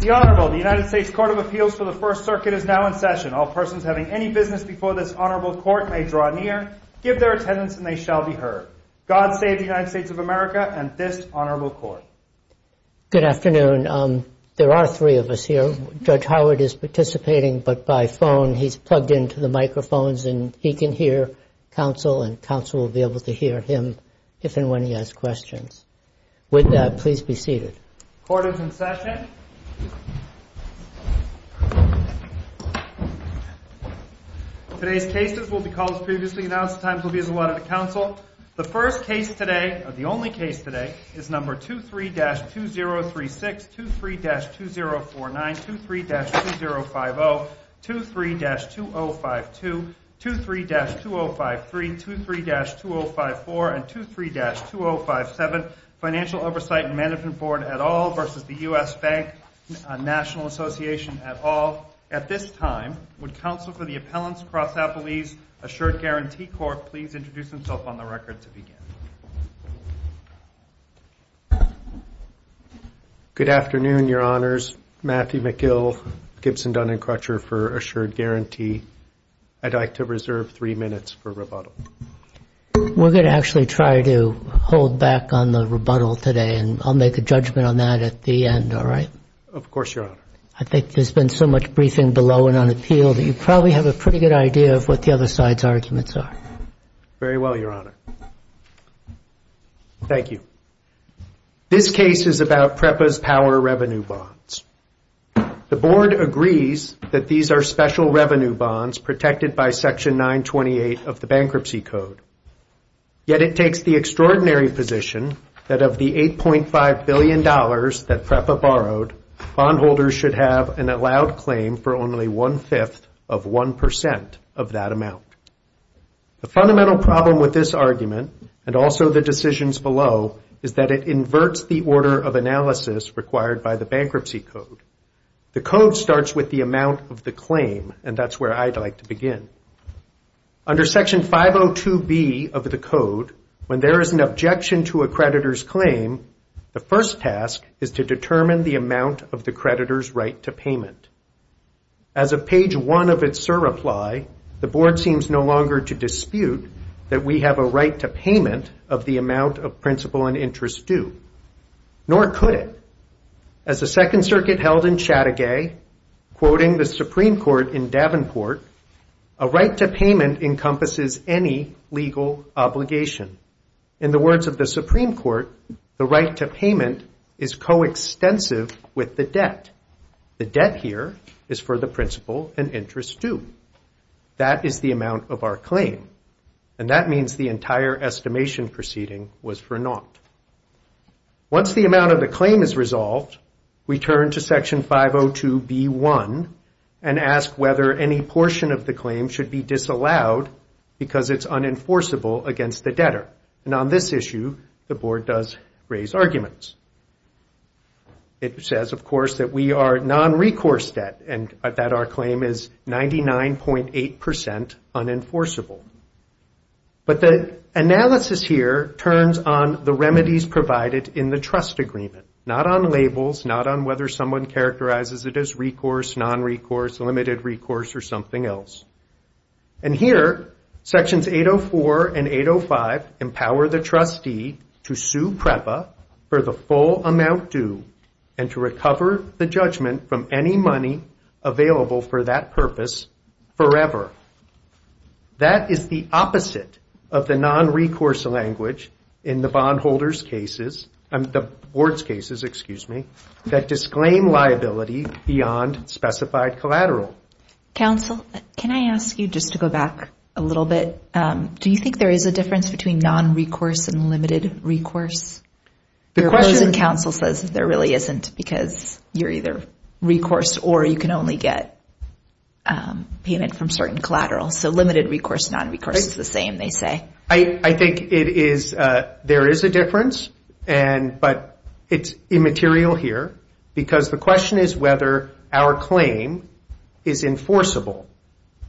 The Honorable United States Court of Appeals for the First Circuit is now in session. All persons having any business before this Honorable Court may draw near, give their attendance, and they shall be heard. God save the United States of America and this Honorable Court. Good afternoon. There are three of us here. Judge Howard is participating, but by phone. He's plugged into the microphones, and he can hear counsel, and counsel will be able to hear him if and when he has questions. With that, please be seated. Court is in session. Today's cases will be called as previously announced. The times will be as allotted to counsel. The first case today, or the only case today, is number 23-2036, 23-2049, 23-2050, 23-2052, 23-2053, 23-2054, and 23-2057, Financial Oversight and Management Board et al. v. U.S. Bank National Association et al. At this time, would counsel for the Appellant's Prosecutor's Assured Guarantee Court please introduce himself on the record to begin? Good afternoon, Your Honors. Matthew McGill, Gibson, Dunn, and Crutcher for Assured Guarantee. I'd like to reserve three minutes for rebuttal. We're going to actually try to hold back on the rebuttal today, and I'll make a judgment on that at the end, all right? Of course, Your Honor. I think there's been so much briefing below and on the field that you probably have a pretty good idea of what the other side's arguments are. Very well, Your Honor. Thank you. This case is about PREPA's power revenue bonds. The Board agrees that these are special revenue bonds protected by Section 928 of the Bankruptcy Code. Yet it takes the extraordinary position that of the $8.5 billion that PREPA borrowed, bondholders should have an allowed claim for only one-fifth of 1% of that amount. The fundamental problem with this argument, and also the decisions below, is that it inverts the order of analysis required by the Bankruptcy Code. The Code starts with the amount of the claim, and that's where I'd like to begin. Under Section 502B of the Code, when there is an objection to a creditor's claim, the first task is to determine the amount of the creditor's right to payment. As of page 1 of its surreply, the Board seems no longer to dispute that we have a right to payment of the amount of principal and interest due. Nor could it. As the Second Circuit held in Chattagay, quoting the Supreme Court in Davenport, a right to payment encompasses any legal obligation. In the words of the Supreme Court, the right to payment is coextensive with the debt. The debt here is for the principal and interest due. That is the amount of our claim, and that means the entire estimation proceeding was for naught. Once the amount of the claim is resolved, we turn to Section 502B1 and ask whether any portion of the claim should be disallowed because it's unenforceable against the debtor. And on this issue, the Board does raise arguments. It says, of course, that we are non-recourse debt and that our claim is 99.8% unenforceable. But the analysis here turns on the remedies provided in the trust agreement, not on labels, not on whether someone characterizes it as recourse, non-recourse, limited recourse, or something else. And here, Sections 804 and 805 empower the trustee to sue PREPA for the full amount due and to recover the judgment from any money available for that purpose forever. That is the opposite of the non-recourse language in the Board's cases that disclaim liability beyond specified collateral. Counsel, can I ask you, just to go back a little bit, do you think there is a difference between non-recourse and limited recourse? The question, Counsel, says there really isn't because you're either recourse or you can only get payment from certain collateral. So limited recourse, non-recourse, it's the same, they say. I think there is a difference, but it's immaterial here because the question is whether our claim is enforceable,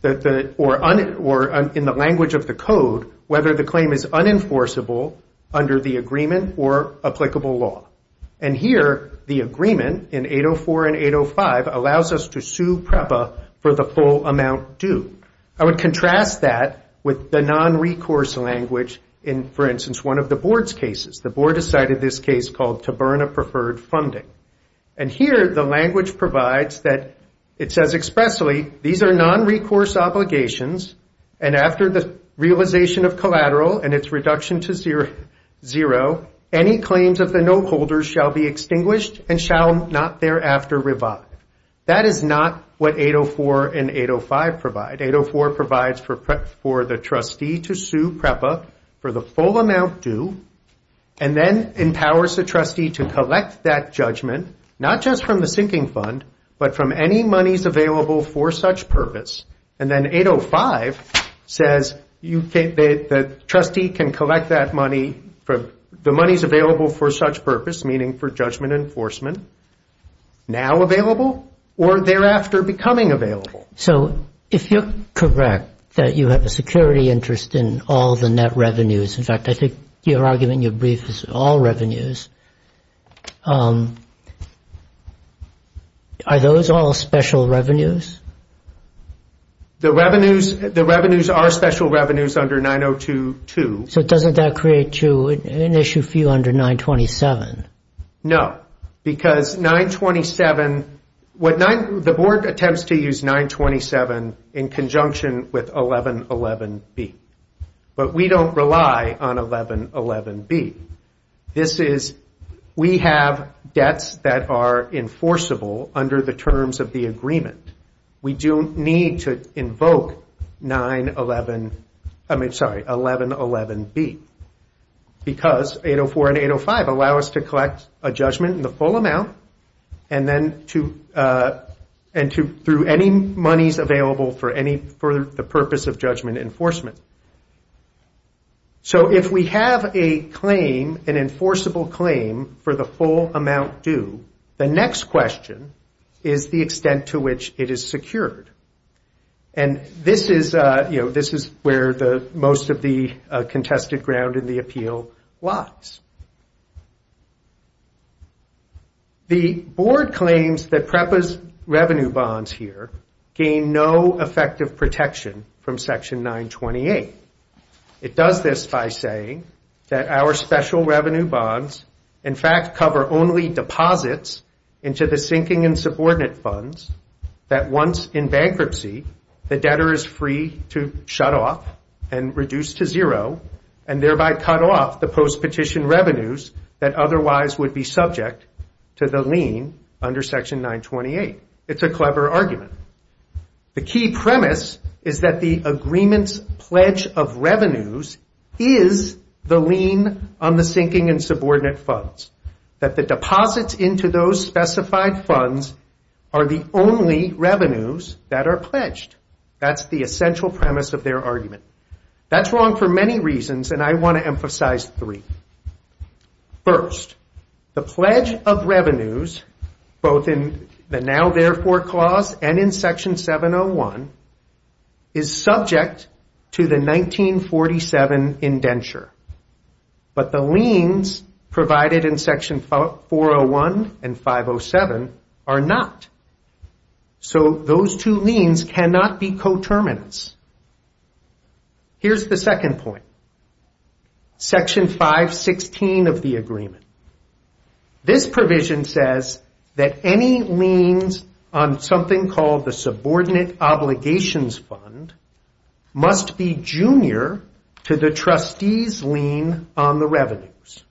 or in the language of the Code, whether the claim is unenforceable under the agreement or applicable law. And here, the agreement in 804 and 805 allows us to sue PREPA for the full amount due. I would contrast that with the non-recourse language in, for instance, one of the Board's cases. The Board has cited this case called, To Burn a Preferred Funding. And here, the language provides that, it says expressly, these are non-recourse obligations, and after the realization of collateral and its reduction to zero, any claims of the note holder shall be extinguished and shall not thereafter revive. That is not what 804 and 805 provide. 804 provides for the trustee to sue PREPA for the full amount due, and then empowers the trustee to collect that judgment, not just from the sinking fund, but from any monies available for such purpose. And then 805 says the trustee can collect that money, the monies available for such purpose, meaning for judgment enforcement, now available or thereafter becoming available. So if you're correct that you have a security interest in all the net revenues, in fact, I think you're arguing your brief is all revenues, are those all special revenues? The revenues are special revenues under 9022. So doesn't that create an issue for you under 927? No, because 927, the board attempts to use 927 in conjunction with 1111B. But we don't rely on 1111B. This is, we have debts that are enforceable under the terms of the agreement. We do need to invoke 911, I mean, sorry, 1111B, because 804 and 805 allow us to collect a judgment in the full amount, and then to, and to, through any monies available for any, for the purpose of judgment enforcement. So if we have a claim, an enforceable claim for the full amount due, then the next question is the extent to which it is secured. And this is, you know, this is where most of the contested ground in the appeal lies. The board claims that PREPA's revenue bonds here gain no effective protection from Section 928. It does this by saying that our special revenue bonds, in fact, cover only deposits into the sinking and subordinate funds that once in bankruptcy, the debtor is free to shut off and reduce to zero, and thereby cut off the post-petition revenues that otherwise would be subject to the lien under Section 928. It's a clever argument. The key premise is that the agreement's pledge of revenues is the lien on the sinking and subordinate funds, that the deposits into those specified funds are the only revenues that are pledged. That's the essential premise of their argument. That's wrong for many reasons, and I want to emphasize three. First, the pledge of revenues, both in the Now Therefore Clause and in Section 701, is subject to the 1947 indenture. But the liens provided in Section 401 and 507 are not. So those two liens cannot be coterminants. Here's the second point. Section 516 of the agreement. This provision says that any liens on something called the subordinate obligations fund must be junior to the trustee's lien on the revenues.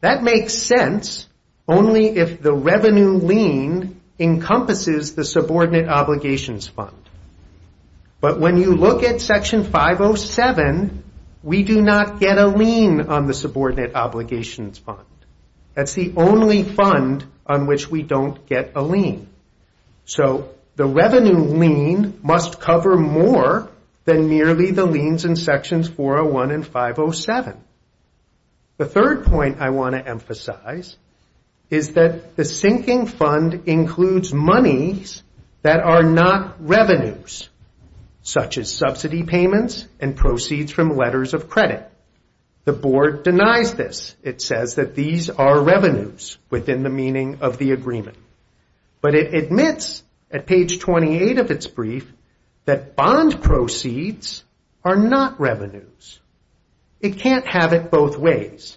That makes sense only if the revenue lien encompasses the subordinate obligations fund. But when you look at Section 507, we do not get a lien on the subordinate obligations fund. That's the only fund on which we don't get a lien. So the revenue lien must cover more than nearly the liens in Sections 401 and 507. The second point of this is that the sinking fund includes monies that are not revenues, such as subsidy payments and proceeds from letters of credit. The board denies this. It says that these are revenues within the meaning of the agreement. But it admits at page 28 of its brief that bond proceeds are not revenues. It can't have it both ways.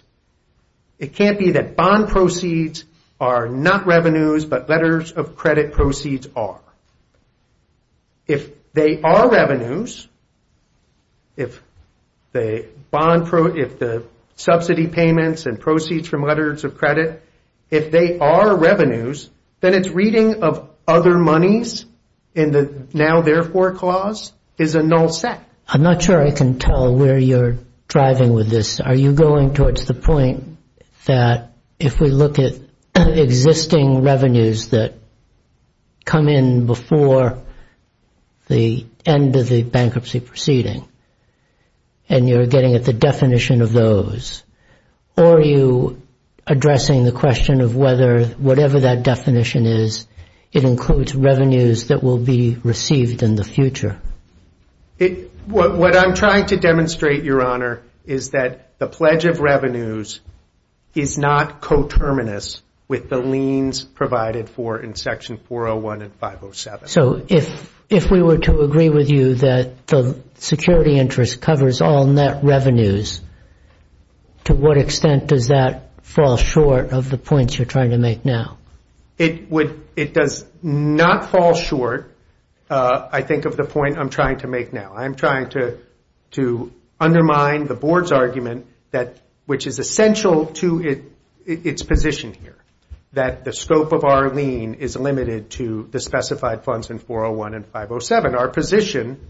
It can't be that bond proceeds are not revenues, but letters of credit proceeds are. If they are revenues, if the subsidy payments and proceeds from letters of credit, if they are revenues, then its reading of other monies in the now therefore clause is a null set. I'm not sure I can tell where you're driving with this. Are you going towards the point that if we look at existing revenues that come in before the end of the bankruptcy proceeding and you're getting at the definition of those, or are you addressing the question of whether whatever that definition is, it includes revenues that will be received in the future? What I'm trying to demonstrate, Your Honor, is that the pledge of revenues is not coterminous with the liens provided for in Section 401 and 507. So if we were to agree with you that the security interest covers all net revenues, to what extent does that fall short of the points you're trying to make now? It does not fall short, I think, of the point I'm trying to make now. I'm trying to undermine the Board's argument, which is essential to its position here, that the scope of our lien is limited to the specified funds in 401 and 507. Our position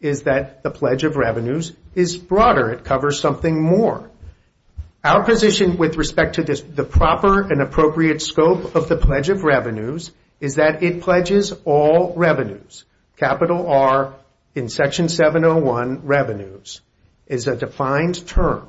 is that the pledge of revenues is broader. It covers something more. Our position with respect to the proper and appropriate scope of the pledge of revenues is that it pledges all revenues, capital R in Section 701, revenues. It's a defined term.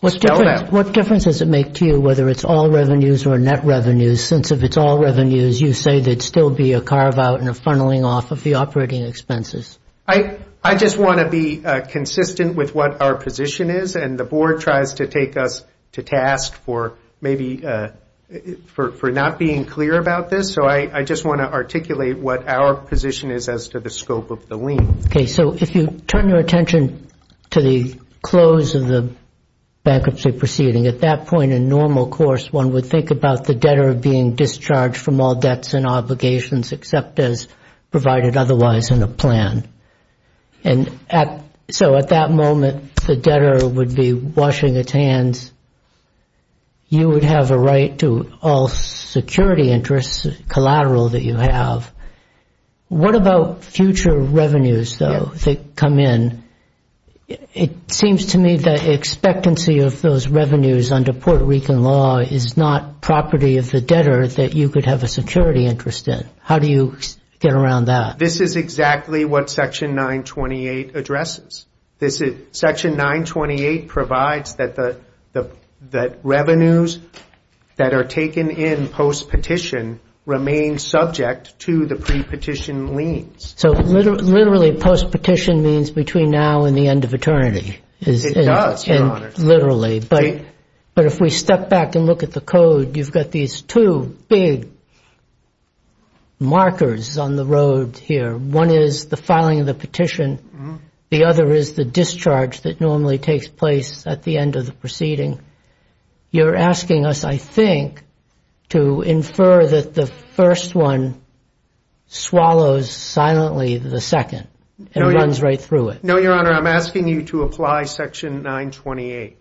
What difference does it make to you whether it's all revenues or net revenues, since if it's all revenues you say there'd still be a carve-out and a funneling off of the operating expenses? I just want to be consistent with what our position is, and the Board tries to take us to task for not being clear about this. I just want to articulate what our position is as to the scope of the lien. If you turn your attention to the close of the bankruptcy proceeding, at that point in normal course one would think about the debtor being discharged from all debts and obligations except those provided otherwise in the plan. And so at that moment the debtor would be washing its hands. You would have a right to all security interests collateral that you have. What about future revenues, though, that come in? It seems to me the expectancy of those revenues under Puerto Rican law is not property of the debtor that you could have a security interest in. How do you get around that? This is exactly what Section 928 addresses. Section 928 provides that revenues that are taken in post-petition remain subject to the pre-petition liens. So literally post-petition means between now and the end of eternity. It does, Your Honor. Literally. But if we step back and look at the code, you've got these two big markers on the road here. One is the filing of the petition. The other is the discharge that normally takes place at the end of the proceeding. You're asking us, I think, to infer that the first one swallows silently the second and runs right through it. No, Your Honor. I'm asking you to apply Section 928.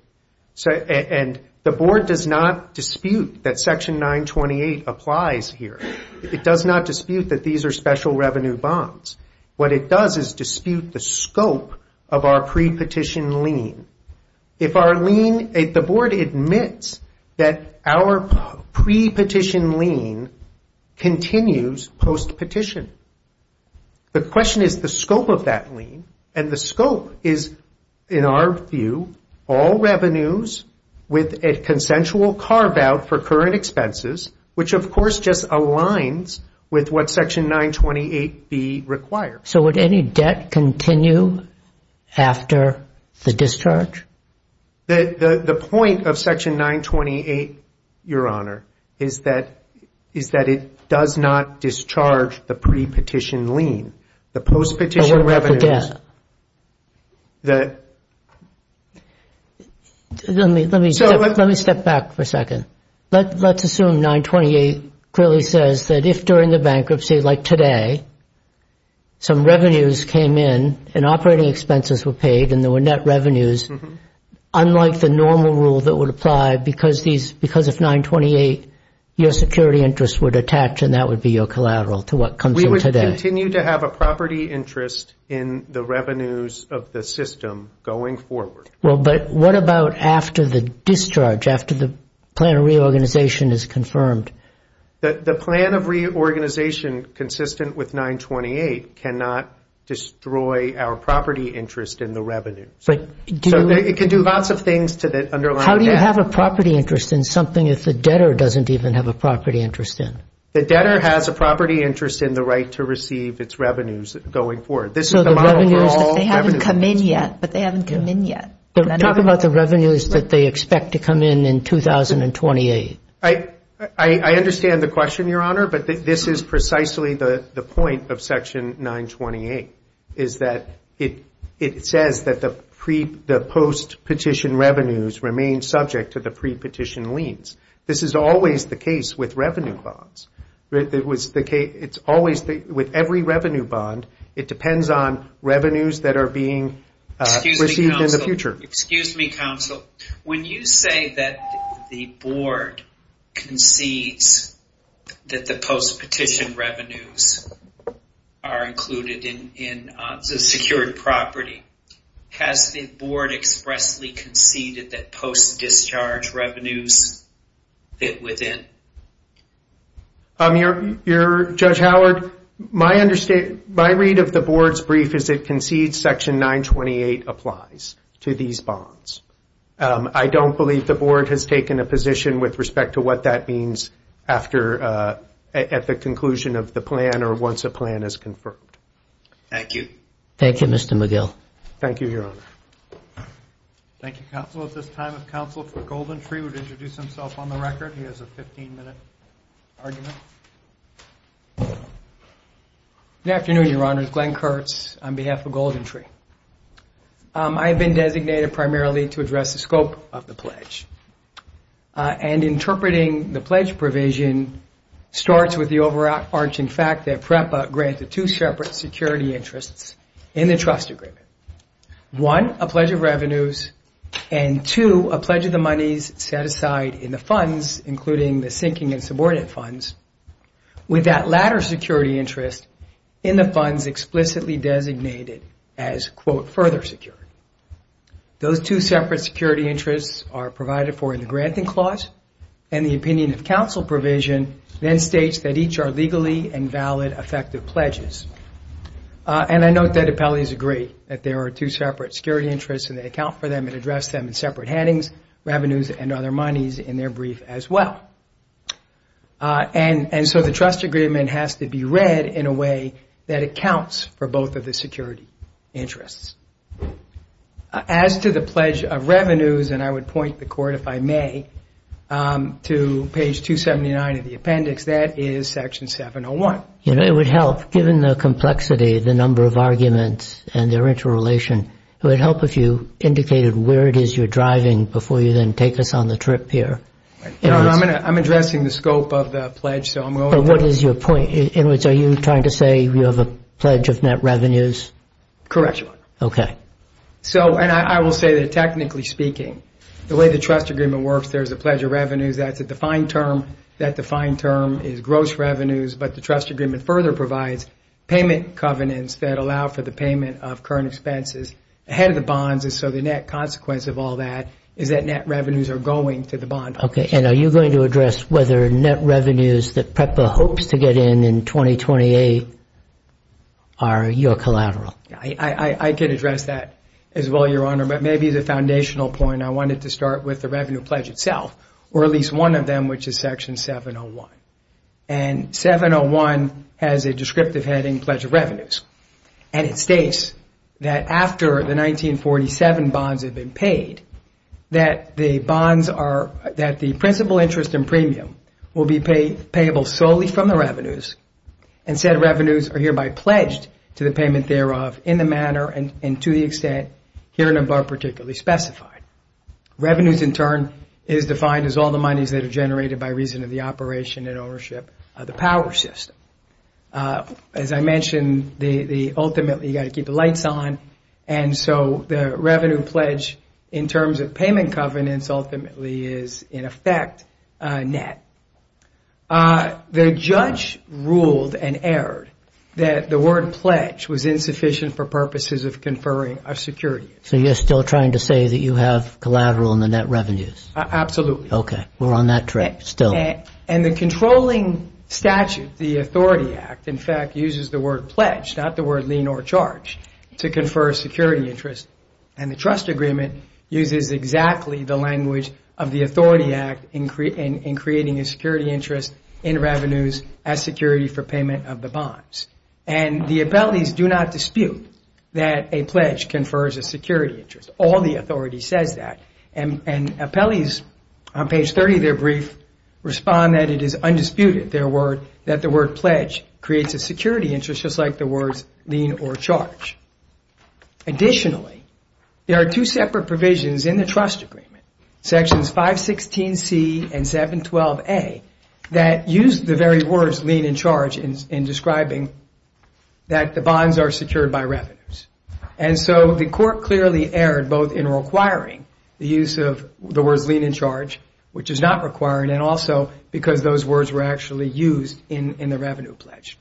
And the Board does not dispute that Section 928 applies here. It does not dispute that these are special revenue bonds. What it does is dispute the scope of our pre-petition lien. If the Board admits that our pre-petition lien continues post-petition, the question is the scope of that lien, and the scope is, in our view, all revenues with a consensual carve-out for current expenses, which of course just aligns with what Section 928b requires. So would any debt continue after the discharge? The point of Section 928, Your Honor, is that it does not discharge the pre-petition lien. The post-petition revenues. Let me step back for a second. Let's assume 928 clearly says that if during the bankruptcy, like today, some revenues came in and operating expenses were paid and there were net revenues, unlike the normal rule that would apply, because if 928 your security interests were detached and that would be your collateral to what comes from today. We continue to have a property interest in the revenues of the system going forward. But what about after the discharge, after the plan of reorganization is confirmed? The plan of reorganization consistent with 928 cannot destroy our property interest in the revenue. So it can do lots of things to the underlying debt. How do you have a property interest in something if the debtor doesn't even have a property interest in it? The debtor has a property interest in the right to receive its revenues going forward. They haven't come in yet, but they haven't come in yet. Talk about the revenues that they expect to come in in 2028. I understand the question, Your Honor, but this is precisely the point of Section 928, is that it says that the post-petition revenues remain subject to the pre-petition liens. This is always the case with revenue bonds. It's always the case with every revenue bond. It depends on revenues that are being received in the future. Excuse me, counsel. When you say that the Board concedes that the post-petition revenues are included in the secured property, has the Board expressly conceded that post-discharge revenues fit within? Judge Howard, my read of the Board's brief is it concedes Section 928 applies to these bonds. I don't believe the Board has taken a position with respect to what that means at the conclusion of the plan or once a plan is confirmed. Thank you. Thank you, Mr. McGill. Thank you, Your Honor. Thank you, counsel. At this time, if counsel for GoldenTree would introduce himself on the record. He has a 15-minute argument. Good afternoon, Your Honor. Glenn Kurtz on behalf of GoldenTree. I have been designated primarily to address the scope of the pledge. And interpreting the pledge provision starts with the overarching fact that PREPA grants the two separate security interests in the trust agreement. One, a pledge of revenues, and two, a pledge of the monies set aside in the funds, including the sinking and subordinate funds, with that latter security interest in the funds explicitly designated as, quote, further security. Those two separate security interests are provided for in the granting clause, and the opinion of counsel provision then states that each are legally and valid effective pledges. And I note that appellees agree that there are two separate security interests and they account for them and address them in separate headings, revenues, and other monies in their brief as well. And so the trust agreement has to be read in a way that it counts for both of the security interests. As to the pledge of revenues, and I would point the court, if I may, to page 279 of the appendix, that is section 701. It would help, given the complexity, the number of arguments and their interrelation. It would help if you indicated where it is you're driving before you then take us on the trip here. I'm addressing the scope of the pledge. What is your point? In other words, are you trying to say you have a pledge of net revenues? Correct. Okay. So, and I will say that technically speaking, the way the trust agreement works, there's a pledge of revenues at the defined term. That defined term is gross revenues, but the trust agreement further provides payment covenants that allow for the payment of current expenses ahead of the bonds. And so the net consequence of all that is that net revenues are going to the bonds. Okay. And are you going to address whether net revenues that PREPA hopes to get in in 2028 are your collateral? I can address that as well, Your Honor. But maybe the foundational point, I wanted to start with the revenue pledge itself, or at least one of them, which is section 701. And it states that after the 1947 bonds have been paid, that the bonds are, that the principal interest and premium will be payable solely from the revenues, and said revenues are hereby pledged to the payment thereof in the manner and to the extent herein above particularly specified. Revenues in turn is defined as all the monies that are generated by reason of the operation and ownership of the power system. As I mentioned, ultimately you've got to keep the lights on, and so the revenue pledge in terms of payment covenants ultimately is in effect net. The judge ruled and erred that the word pledge was insufficient for purposes of conferring of securities. So you're still trying to say that you have collateral in the net revenues? Absolutely. Okay. We're on that track still. And the controlling statute, the Authority Act, in fact uses the word pledge, not the word lien or charge, to confer security interest. And the trust agreement uses exactly the language of the Authority Act in creating a security interest in revenues as security for payment of the bonds. And the appellees do not dispute that a pledge confers a security interest. All the authorities said that. And appellees on page 30 of their brief respond that it is undisputed that the word pledge creates a security interest just like the words lien or charge. Additionally, there are two separate provisions in the trust agreement, sections 516C and 712A, that use the very words lien and charge in describing that the bonds are secured by revenues. And so the court clearly erred both in requiring the use of the word lien and charge, which is not required, and also because those words were actually used in the revenue pledge.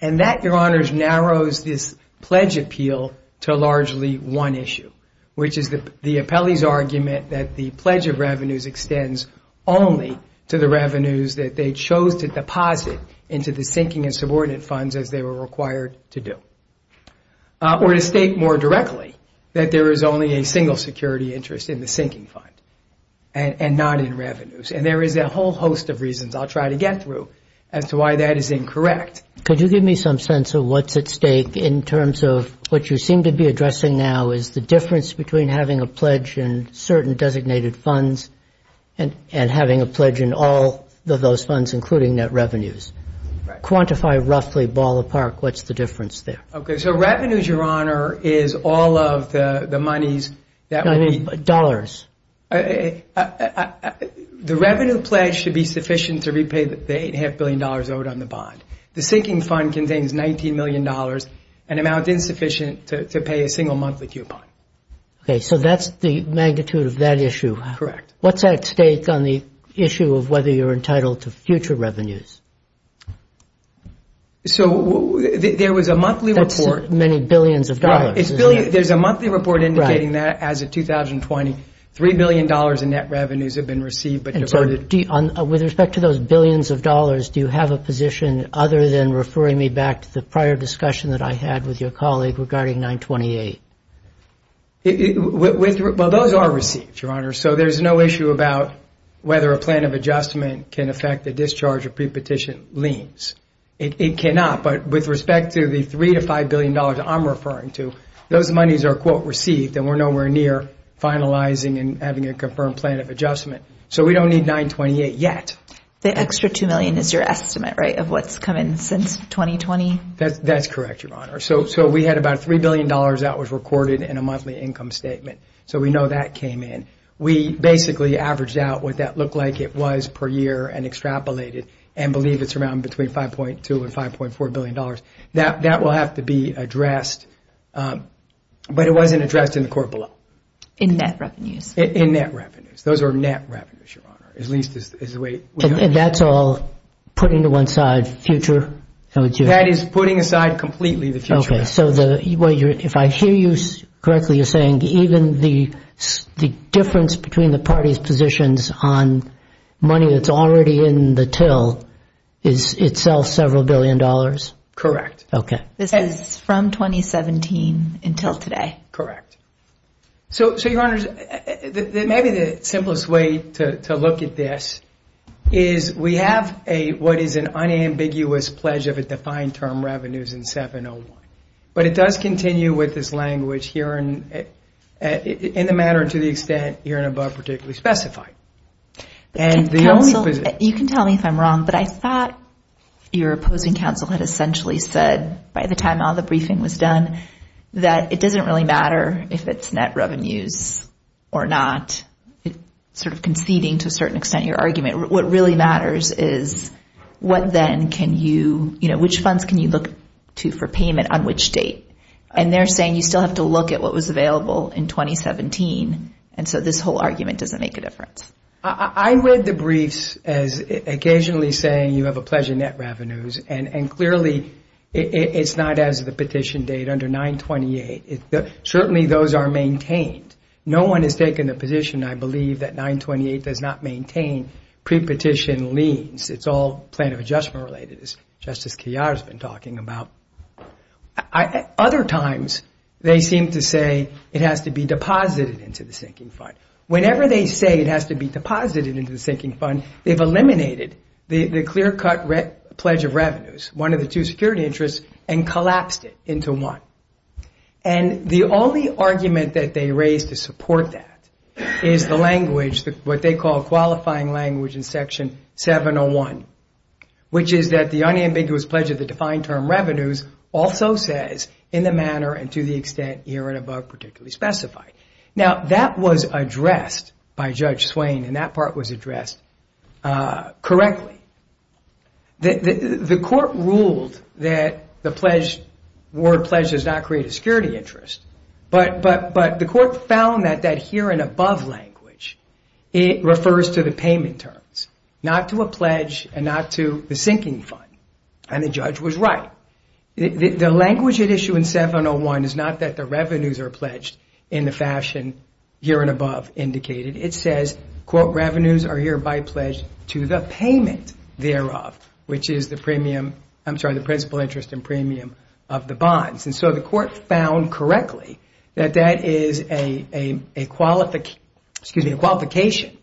And that, Your Honors, narrows this pledge appeal to largely one issue, which is the appellee's argument that the pledge of revenues extends only to the revenues that they chose to deposit into the sinking and subordinate funds as they were required to do. Or to state more directly that there is only a single security interest in the sinking fund and not in revenues. And there is a whole host of reasons I'll try to get through as to why that is incorrect. Could you give me some sense of what's at stake in terms of what you seem to be addressing now is the difference between having a pledge in certain designated funds and having a pledge in all of those funds, including net revenues. Quantify roughly ballpark what's the difference there. Okay, so revenues, Your Honor, is all of the monies. I mean dollars. The revenue pledge should be sufficient to repay the $8.5 billion owed on the bond. The sinking fund contains $19 million, an amount insufficient to pay a single monthly coupon. Okay, so that's the magnitude of that issue. Correct. What's at stake on the issue of whether you're entitled to future revenues? So there was a monthly report. That's many billions of dollars. There's a monthly report indicating that as of 2020, $3 billion in net revenues have been received. And so with respect to those billions of dollars, do you have a position other than referring me back to the prior discussion that I had with your colleague regarding 928? Well, those are received, Your Honor. So there's no issue about whether a plan of adjustment can affect the discharge or prepetition liens. It cannot, but with respect to the $3 to $5 billion I'm referring to, those monies are quote received and we're nowhere near finalizing and having a confirmed plan of adjustment. So we don't need 928 yet. The extra $2 million is your estimate, right, of what's come in since 2020? That's correct, Your Honor. So we had about $3 billion that was recorded in a monthly income statement. So we know that came in. We basically averaged out what that looked like it was per year and extrapolated and believe it's around between $5.2 and $5.4 billion. That will have to be addressed, but it wasn't addressed in the court below. In net revenues? In net revenues. Those are net revenues, Your Honor, at least is the way- And that's all put into one side, future? That is putting aside completely the future. Okay. So if I hear you correctly, you're saying even the difference between the parties' positions on money that's already in the TIL is itself several billion dollars? Correct. Okay. This is from 2017 until today. Correct. So, Your Honor, maybe the simplest way to look at this is we have what is an unambiguous pledge of a defined term revenues in 701, but it does continue with this language here in the matter and to the extent here and above particularly specified. You can tell me if I'm wrong, but I thought your opposing counsel had essentially said by the time all the briefing was done that it doesn't really matter if it's net revenues or not, sort of conceding to a certain extent your argument. What really matters is what then can you, you know, which funds can you look to for payment on which date? And they're saying you still have to look at what was available in 2017, and so this whole argument doesn't make a difference. I read the briefs as occasionally saying you have a pledge of net revenues, and clearly it's not as the petition date under 928. Certainly those are maintained. No one has taken a position, I believe, that 928 does not maintain pre-petition liens. It's all plan of adjustment related, as Justice Kiara's been talking about. Other times they seem to say it has to be deposited into the sinking fund. Whenever they say it has to be deposited into the sinking fund, they've eliminated the clear-cut pledge of revenues, one of the two security interests, and collapsed it into one. And the only argument that they raised to support that is the language, what they call qualifying language in Section 701, which is that the unambiguous pledge of the defined term revenues also says in the manner and to the extent here and above particularly specified. Now, that was addressed by Judge Swain, and that part was addressed correctly. The court ruled that the word pledge does not create a security interest, but the court found that that here and above language, it refers to the payment terms, not to a pledge and not to the sinking fund, and the judge was right. The language at issue in 701 is not that the revenues are pledged in the fashion here and above indicated. It says, quote, revenues are hereby pledged to the payment thereof, which is the principal interest and premium of the bonds. And so the court found correctly that that is a qualification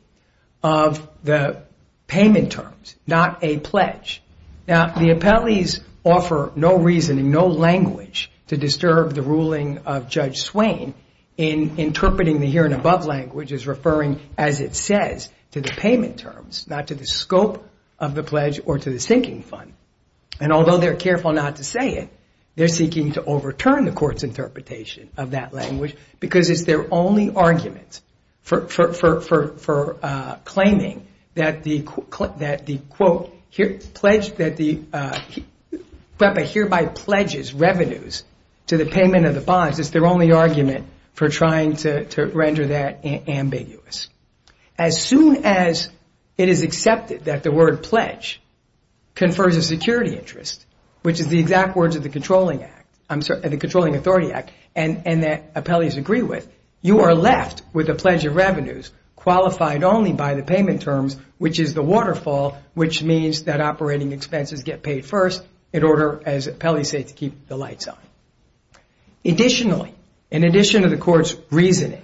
of the payment terms, not a pledge. Now, the appellees offer no reason and no language to disturb the ruling of Judge Swain in interpreting the here and above language as referring, as it says, to the payment terms, not to the scope of the pledge or to the sinking fund. And although they're careful not to say it, they're seeking to overturn the court's interpretation of that language because it's their only argument for claiming that the, quote, pledge that the hereby pledges revenues to the payment of the bonds is their only argument for trying to render that ambiguous. As soon as it is accepted that the word pledge confers a security interest, which is the exact words of the Controlling Authority Act and that appellees agree with, you are left with a pledge of revenues qualified only by the payment terms, which is the waterfall, which means that operating expenses get paid first in order, as appellees say, to keep the lights on. Additionally, in addition to the court's reasoning,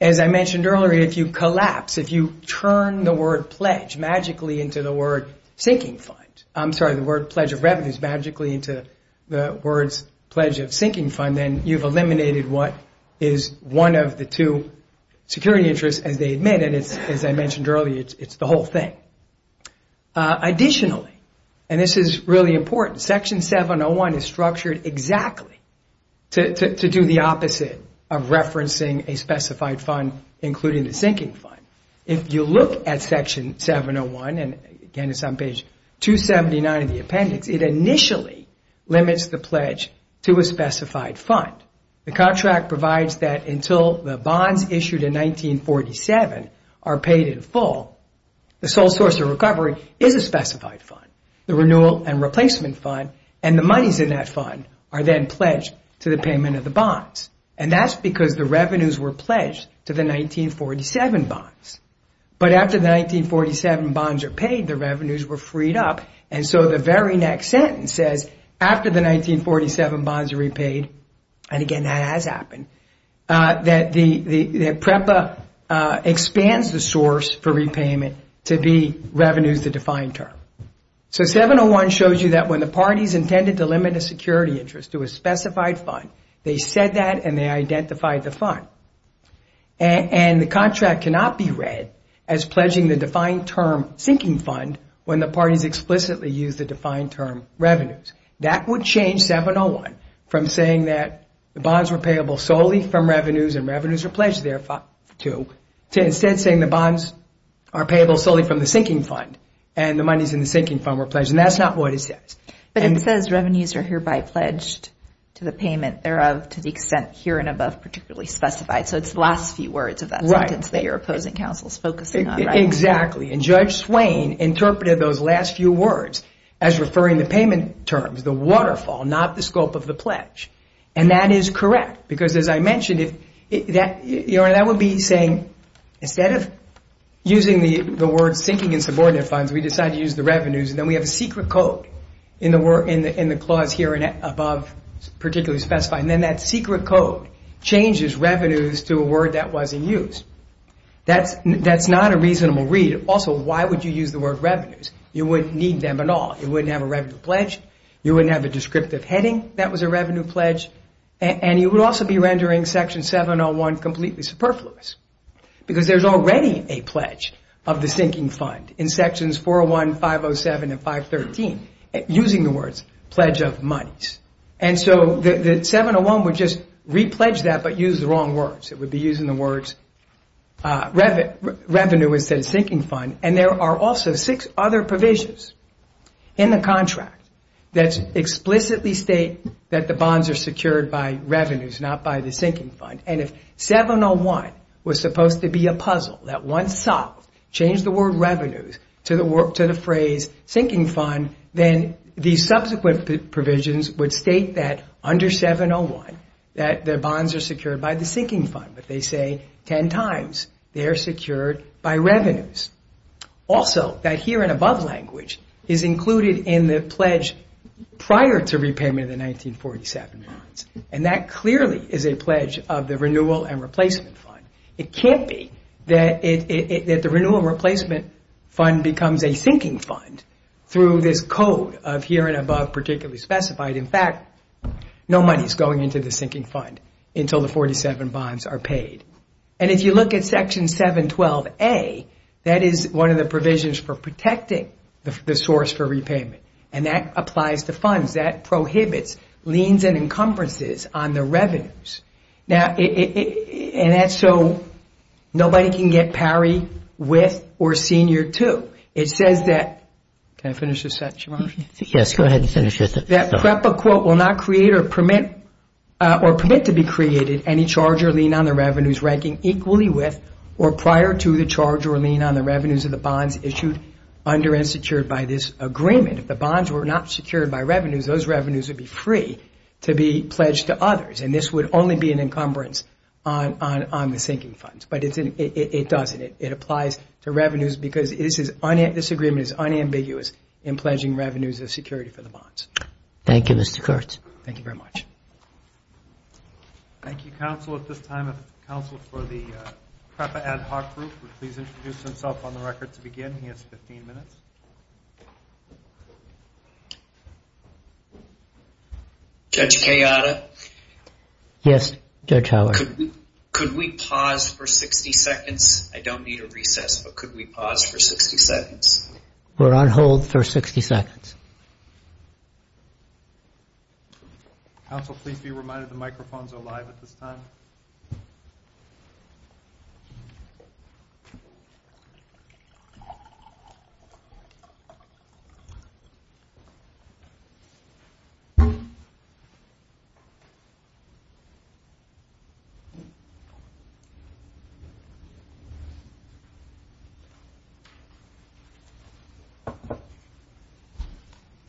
as I mentioned earlier, if you collapse, if you turn the word pledge magically into the word sinking fund, I'm sorry, the word pledge of revenues magically into the words pledge of sinking fund, then you've eliminated what is one of the two security interests and they admit, and as I mentioned earlier, it's the whole thing. Additionally, and this is really important, Section 701 is structured exactly to do the opposite of referencing a specified fund, including the sinking fund. If you look at Section 701, and again, it's on page 279 of the appendix, it initially limits the pledge to a specified fund. The contract provides that until the bonds issued in 1947 are paid in full, the sole source of recovery is a specified fund. The renewal and replacement fund and the monies in that fund are then pledged to the payment of the bonds, and that's because the revenues were pledged to the 1947 bonds. But after the 1947 bonds are paid, the revenues were freed up, and so the very next sentence says, after the 1947 bonds are repaid, and again, that has happened, that PREPA expands the source for repayment to be revenue, the defined term. So 701 shows you that when the parties intended to limit a security interest to a specified fund, they said that and they identified the fund. And the contract cannot be read as pledging the defined term sinking fund when the parties explicitly used the defined term revenues. That would change 701 from saying that the bonds were payable solely from revenues, and revenues were pledged there to, to instead saying the bonds are payable solely from the sinking fund, and the monies in the sinking fund were pledged. And that's not what it says. But it says revenues are hereby pledged to the payment thereof to the extent here and above particularly specified. So it's the last few words of that sentence. They are opposing counsels focusing on that. Exactly. And Judge Swain interpreted those last few words as referring to payment terms, the waterfall, not the scope of the pledge. And that is correct. Because as I mentioned, that would be saying instead of using the word sinking and subordinate funds, we decide to use the revenues, and then we have a secret code in the clause here and above particularly specified. And then that secret code changes revenues to a word that was in use. That's not a reasonable read. Also, why would you use the word revenues? You wouldn't need them at all. You wouldn't have a revenue pledge. You wouldn't have a descriptive heading that was a revenue pledge. And you would also be rendering Section 701 completely superfluous. Because there's already a pledge of the sinking fund in Sections 401, 507, and 513 using the words pledge of monies. And so the 701 would just repledge that but use the wrong words. It would be using the words revenue instead of sinking fund. And there are also six other provisions in the contract that explicitly state that the bonds are secured by revenues, not by the sinking fund. And if 701 was supposed to be a puzzle that once solved, changed the word revenues to the phrase sinking fund, then the subsequent provisions would state that under 701 that the bonds are secured by the sinking fund. But they say ten times they are secured by revenues. Also, that here and above language is included in the pledge prior to repayment of the 1947 bonds. And that clearly is a pledge of the renewal and replacement fund. It can't be that the renewal and replacement fund becomes a sinking fund through this code of here and above particularly specified. In fact, no money is going into the sinking fund until the 47 bonds are paid. And if you look at Section 712A, that is one of the provisions for protecting the source for repayment. And that applies to funds. That prohibits liens and encumbrances on the revenues. Now, and that's so nobody can get parried with or senior to. It says that, can I finish this section? Yes, go ahead and finish it. That PREPA, quote, will not create or permit or permit to be created any charge or lien on the revenues ranking equally with or prior to the charge or lien on the revenues of the bonds issued under and secured by this agreement. If the bonds were not secured by revenues, those revenues would be free to be pledged to others. And this would only be an encumbrance on the sinking funds. But it doesn't. It applies to revenues because this agreement is unambiguous in pledging revenues as security for the bonds. Thank you, Mr. Kurtz. Thank you very much. Thank you, counsel. At this time, if counsel for the PREPA Ad Hoc Group would please introduce himself on the record to begin. You have 15 minutes. Judge Kayada? Yes, Judge Howard. Could we pause for 60 seconds? I don't need a recess, but could we pause for 60 seconds? We're on hold for 60 seconds. Counsel, please be reminded the microphones are live at this time. We're on hold for 60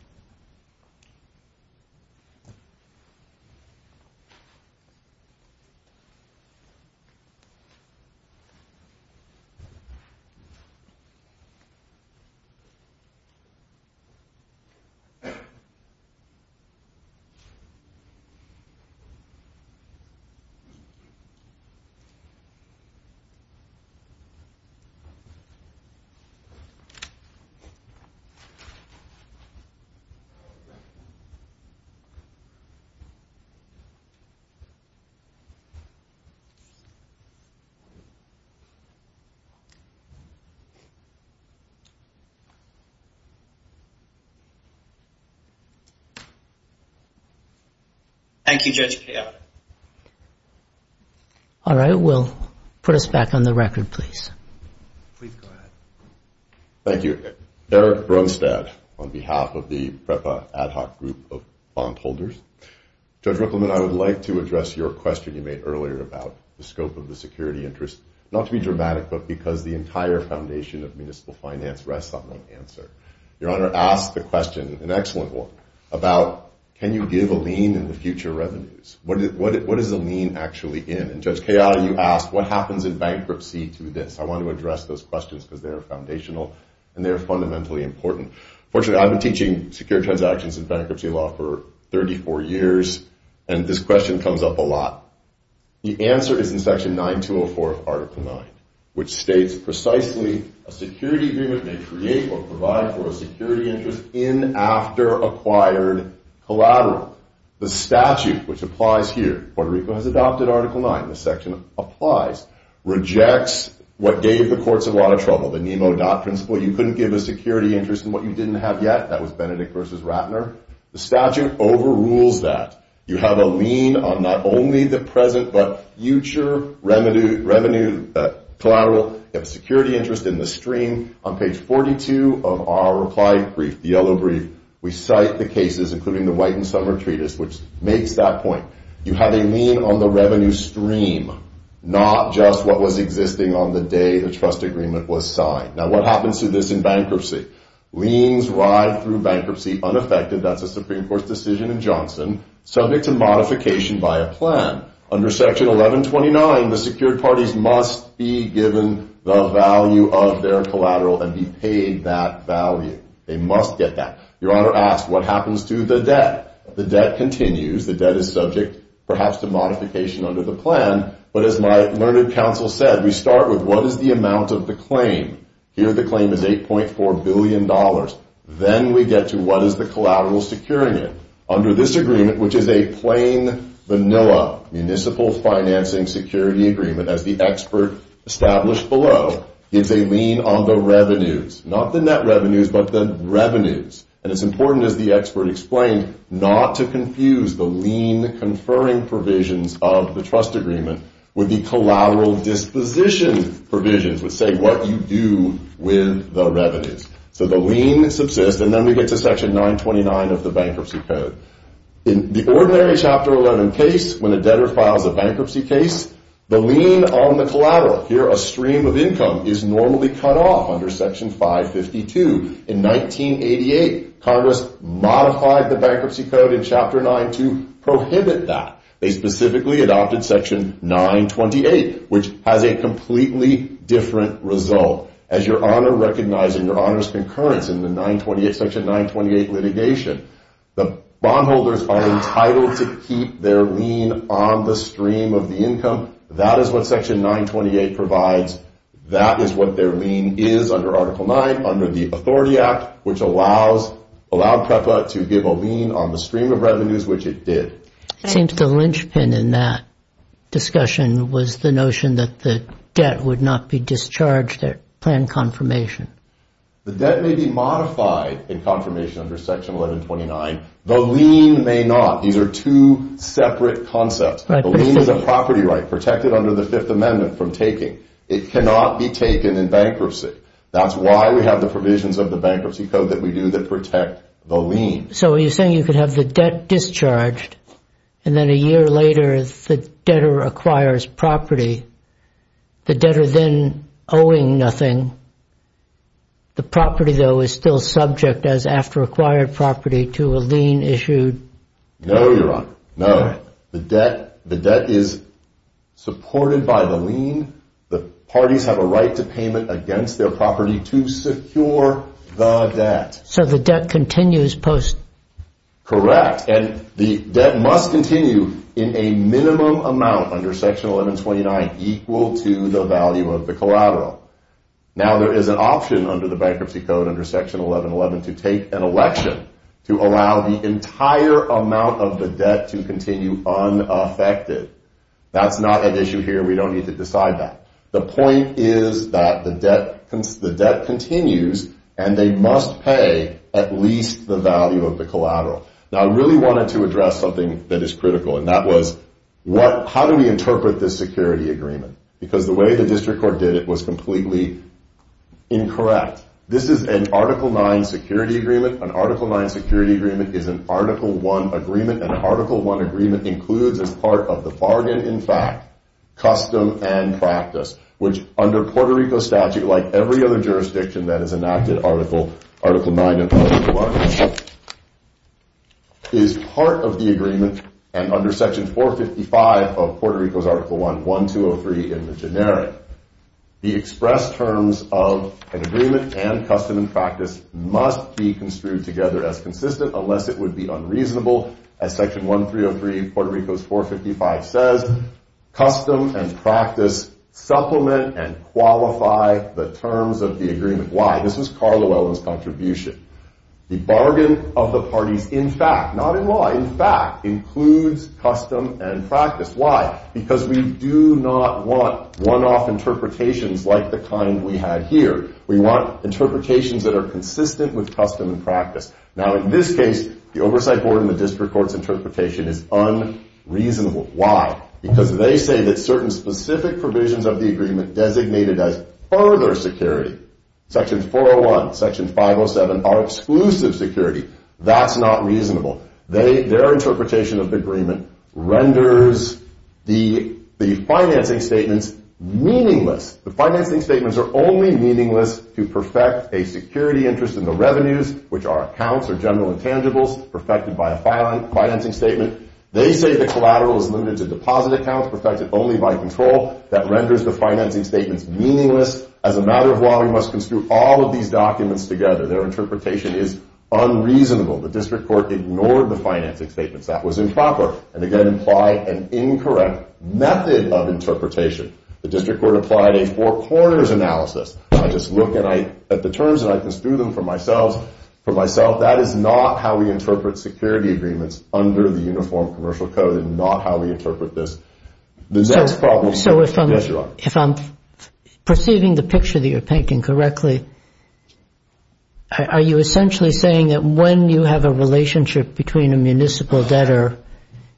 seconds. Thank you, JGKF. All right, we'll put us back on the record, please. Please go ahead. Thank you. Eric Bromstad on behalf of the PREPA Ad Hoc Group of bondholders. Judge Rippleman, I would like to address your question you made earlier about the scope of the security interest. Not to be dramatic, but because the entire foundation of municipal finance rests on one answer. Your Honor, ask the question, an excellent one, about can you give a lien in the future revenues? What is a lien actually in? And Judge Cahill, you asked, what happens in bankruptcy to this? I want to address those questions because they are foundational and they are fundamentally important. Fortunately, I've been teaching Secure Transactions and Bankruptcy Law for 34 years, and this question comes up a lot. The answer is in Section 9204 of Article 9, which states precisely, a security agreement may create or provide for a security interest in, after acquired collateral. The statute, which applies here, Puerto Rico has adopted Article 9, this section applies, rejects what gave the courts a lot of trouble, the Nino-Dodd principle. You couldn't give a security interest in what you didn't have yet. That was Benedict v. Ratner. The statute overrules that. You have a lien on not only the present, but future revenue, collateral, and security interest in the stream. On page 42 of our reply brief, the yellow brief, we cite the cases, including the White and Summer Treatise, which makes that point. You have a lien on the revenue stream, not just what was existing on the day the trust agreement was signed. Now, what happens to this in bankruptcy? Liens ride through bankruptcy unaffected, that's a Supreme Court decision in Johnson, subject to modification by a plan. Under Section 1129, the secured parties must be given the value of their collateral and be paid that value. They must get that. Your Honor asks, what happens to the debt? The debt continues. The debt is subject, perhaps, to modification under the plan. But as my learned counsel said, we start with what is the amount of the claim? Here, the claim is $8.4 billion. Then we get to what is the collateral securing it. Under this agreement, which is a plain, vanilla municipal financing security agreement, as the expert established below, is a lien on the revenues. Not the net revenues, but the revenues. And it's important, as the expert explained, not to confuse the lien conferring provisions of the trust agreement with the collateral disposition provisions that say what you do with the revenues. So the lien subsists, and then we get to Section 929 of the Bankruptcy Code. In the ordinary Chapter 11 case, when the debtor files a bankruptcy case, the lien on the collateral, here a stream of income, is normally cut off under Section 552. In 1988, Congress modified the Bankruptcy Code in Chapter 9 to prohibit that. They specifically adopted Section 928, which has a completely different result. As your Honor recognized in your Honor's concurrence in the Section 928 litigation, the bondholders are entitled to keep their lien on the stream of the income. That is what Section 928 provides. That is what their lien is under Article 9, under the Authority Act, which allowed PREPA to give a lien on the stream of revenues, which it did. I think the linchpin in that discussion was the notion that the debt would not be discharged at plan confirmation. The debt may be modified in confirmation under Section 1129. The lien may not. These are two separate concepts. The lien is a property right protected under the Fifth Amendment from taking. It cannot be taken in bankruptcy. That's why we have the provisions of the Bankruptcy Code that we do to protect the lien. So you're saying you could have the debt discharged, and then a year later the debtor acquires property. The debtor then owing nothing. The property, though, is still subject, as after acquired property, to a lien issued. No, Your Honor. No. The debt is supported by the lien. The parties have a right to payment against their property to secure the debt. So the debt continues post? Correct, and the debt must continue in a minimum amount under Section 1129 equal to the value of the collateral. Now there is an option under the Bankruptcy Code, under Section 1111, to take an election to allow the entire amount of the debt to continue unaffected. That's not an issue here. We don't need to decide that. The point is that the debt continues, and they must pay at least the value of the collateral. Now I really wanted to address something that is critical, and that was how do we interpret this security agreement? Because the way the district court did it was completely incorrect. This is an Article 9 security agreement. An Article 9 security agreement is an Article 1 agreement, and an Article 1 agreement includes as part of the bargain, in fact, custom and practice, which under Puerto Rico statute, like every other jurisdiction that is enacted, Article 9 and Article 1, is part of the agreement, and under Section 455 of Puerto Rico's Article 1, 1203 in the generic. The expressed terms of an agreement and custom and practice must be construed together as consistent unless it would be unreasonable. As Section 1303 of Puerto Rico's 455 says, custom and practice supplement and qualify the terms of the agreement. Why? This is Carl Llewellyn's contribution. The bargain of the parties, in fact, not in law, in fact, includes custom and practice. Why? Because we do not want one-off interpretations like the kind we have here. We want interpretations that are consistent with custom and practice. Now, in this case, the oversight board and the district court's interpretation is unreasonable. Why? Because they say that certain specific provisions of the agreement designated as further security, Section 401, Section 507, are exclusive security. That's not reasonable. Their interpretation of the agreement renders the financing statements meaningless. The financing statements are only meaningless to perfect a security interest in the revenues, which are accounts or general intangibles perfected by a financing statement. They say the collateral is limited to deposit accounts perfected only by control. That renders the financing statements meaningless. As a matter of law, we must construe all of these documents together. Their interpretation is unreasonable. The district court ignored the financing statements. That was improper and, again, implied an incorrect method of interpretation. The district court applied a four-quarters analysis. I just look at the terms and I construe them for myself. That is not how we interpret security agreements under the Uniform Commercial Code. It is not how we interpret this. So if I'm perceiving the picture that you're painting correctly, are you essentially saying that when you have a relationship between a municipal debtor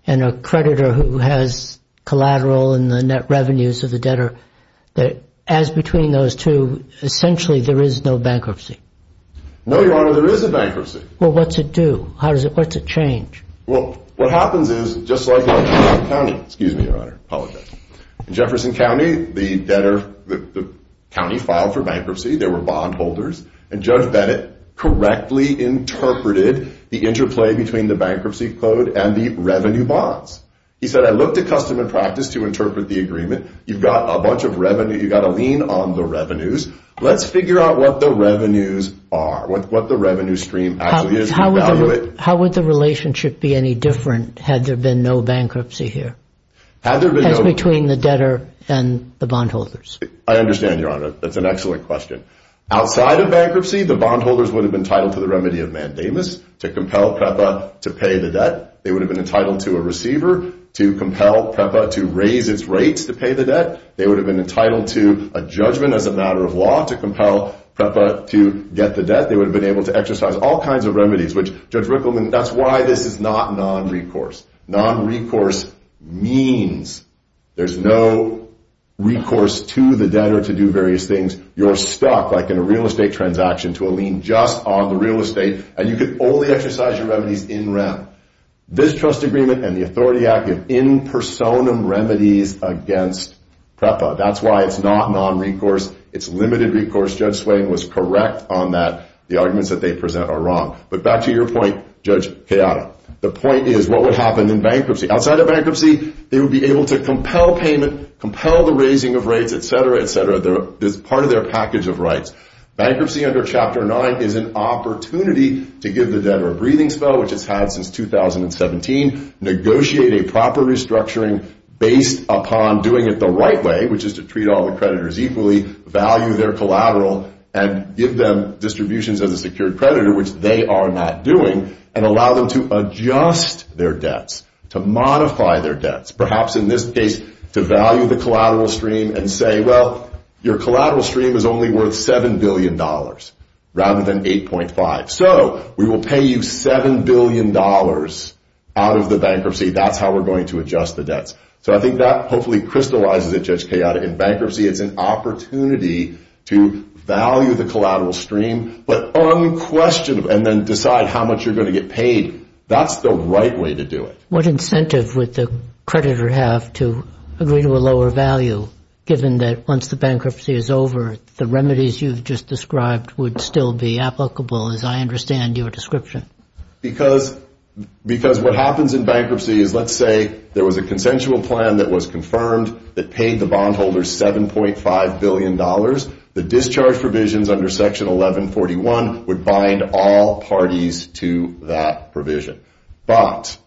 and a creditor who has collateral in the net revenues of the debtor, that as between those two, essentially there is no bankruptcy? No, Your Honor, there is a bankruptcy. Well, what's it do? What's it change? Well, what happens is, just like in Jefferson County. Excuse me, Your Honor. I apologize. In Jefferson County, the debtor, the county filed for bankruptcy. There were bondholders. And Judge Bennett correctly interpreted the interplay between the bankruptcy code and the revenue bonds. He said, I looked at customer practice to interpret the agreement. You've got a bunch of revenue. You've got a lien on the revenues. Let's figure out what the revenues are, what the revenue stream actually is. How would the relationship be any different had there been no bankruptcy here? Had there been no bankruptcy? Between the debtor and the bondholders. I understand, Your Honor. That's an excellent question. Outside of bankruptcy, the bondholders would have been entitled to the remedy of mandamus, to compel PREPA to pay the debt. They would have been entitled to a receiver to compel PREPA to raise its rates to pay the debt. They would have been entitled to a judgment as a matter of law to compel PREPA to get the debt. They would have been able to exercise all kinds of remedies, which Judge Rickleman, that's why this is not non-recourse. Non-recourse means there's no recourse to the debtor to do various things. You're stuck, like in a real estate transaction, to a lien just on the real estate, and you can only exercise your remedies in rent. This trust agreement and the authority active in personam remedies against PREPA. That's why it's not non-recourse. It's limited recourse. Judge Swain was correct on that. The arguments that they present are wrong. But back to your point, Judge Chaotic. The point is, what would happen in bankruptcy? Outside of bankruptcy, they would be able to compel payment, compel the raising of rates, et cetera, et cetera. It's part of their package of rights. Bankruptcy under Chapter 9 is an opportunity to give the debtor a breathing spell, which it's had since 2017, negotiate a proper restructuring based upon doing it the right way, which is to treat all the creditors equally, value their collateral, and give them distributions of a secured creditor, which they are not doing, and allow them to adjust their debts, to modify their debts. Perhaps in this case, to value the collateral stream and say, well, your collateral stream is only worth $7 billion rather than $8.5. So we will pay you $7 billion out of the bankruptcy. That's how we're going to adjust the debts. So I think that hopefully crystallizes it, Judge Chaotic. In bankruptcy, it's an opportunity to value the collateral stream but unquestioned and then decide how much you're going to get paid. That's the right way to do it. What incentive would the creditor have to agree to a lower value, given that once the bankruptcy is over, the remedies you've just described would still be applicable as I understand your description? Because what happens in bankruptcy is, let's say, there was a consensual plan that was confirmed that paid the bondholders $7.5 billion. The discharge provisions under Section 1141 would bind all parties to that provision. But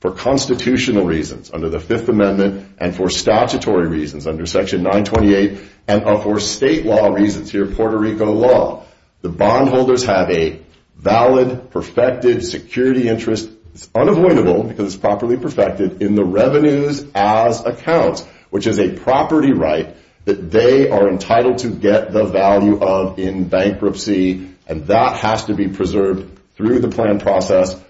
for constitutional reasons under the Fifth Amendment and for statutory reasons under Section 928 and for state law reasons here, Puerto Rico law, the bondholders have a valid, perfected security interest. It's unavoidable because it's properly perfected in the revenues as accounts, which is a property right that they are entitled to get the value of in bankruptcy, and that has to be preserved through the plan process.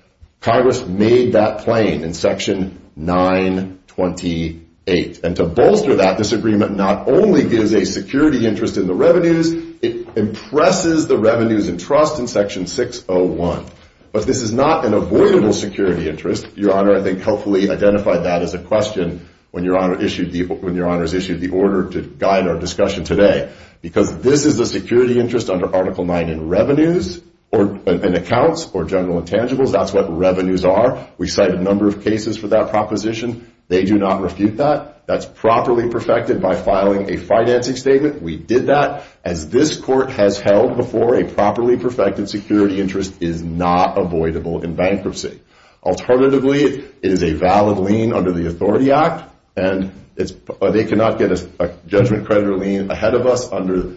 Congress made that plain in Section 928. And to bolster that, this agreement not only gives a security interest in the revenues, it impresses the revenues and trust in Section 601. But this is not an avoidable security interest. Your Honor, I think hopefully identified that as a question when Your Honor issued the order to guide our discussion today. Because this is a security interest under Article 9 in revenues and accounts or general intangibles, that's what revenues are. We cite a number of cases for that proposition. They do not refute that. That's properly perfected by filing a financing statement. We did that. And this Court has held before a properly perfected security interest is not avoidable in bankruptcy. Alternatively, it is a valid lien under the Authority Act, and they cannot get a judgment credit lien ahead of us under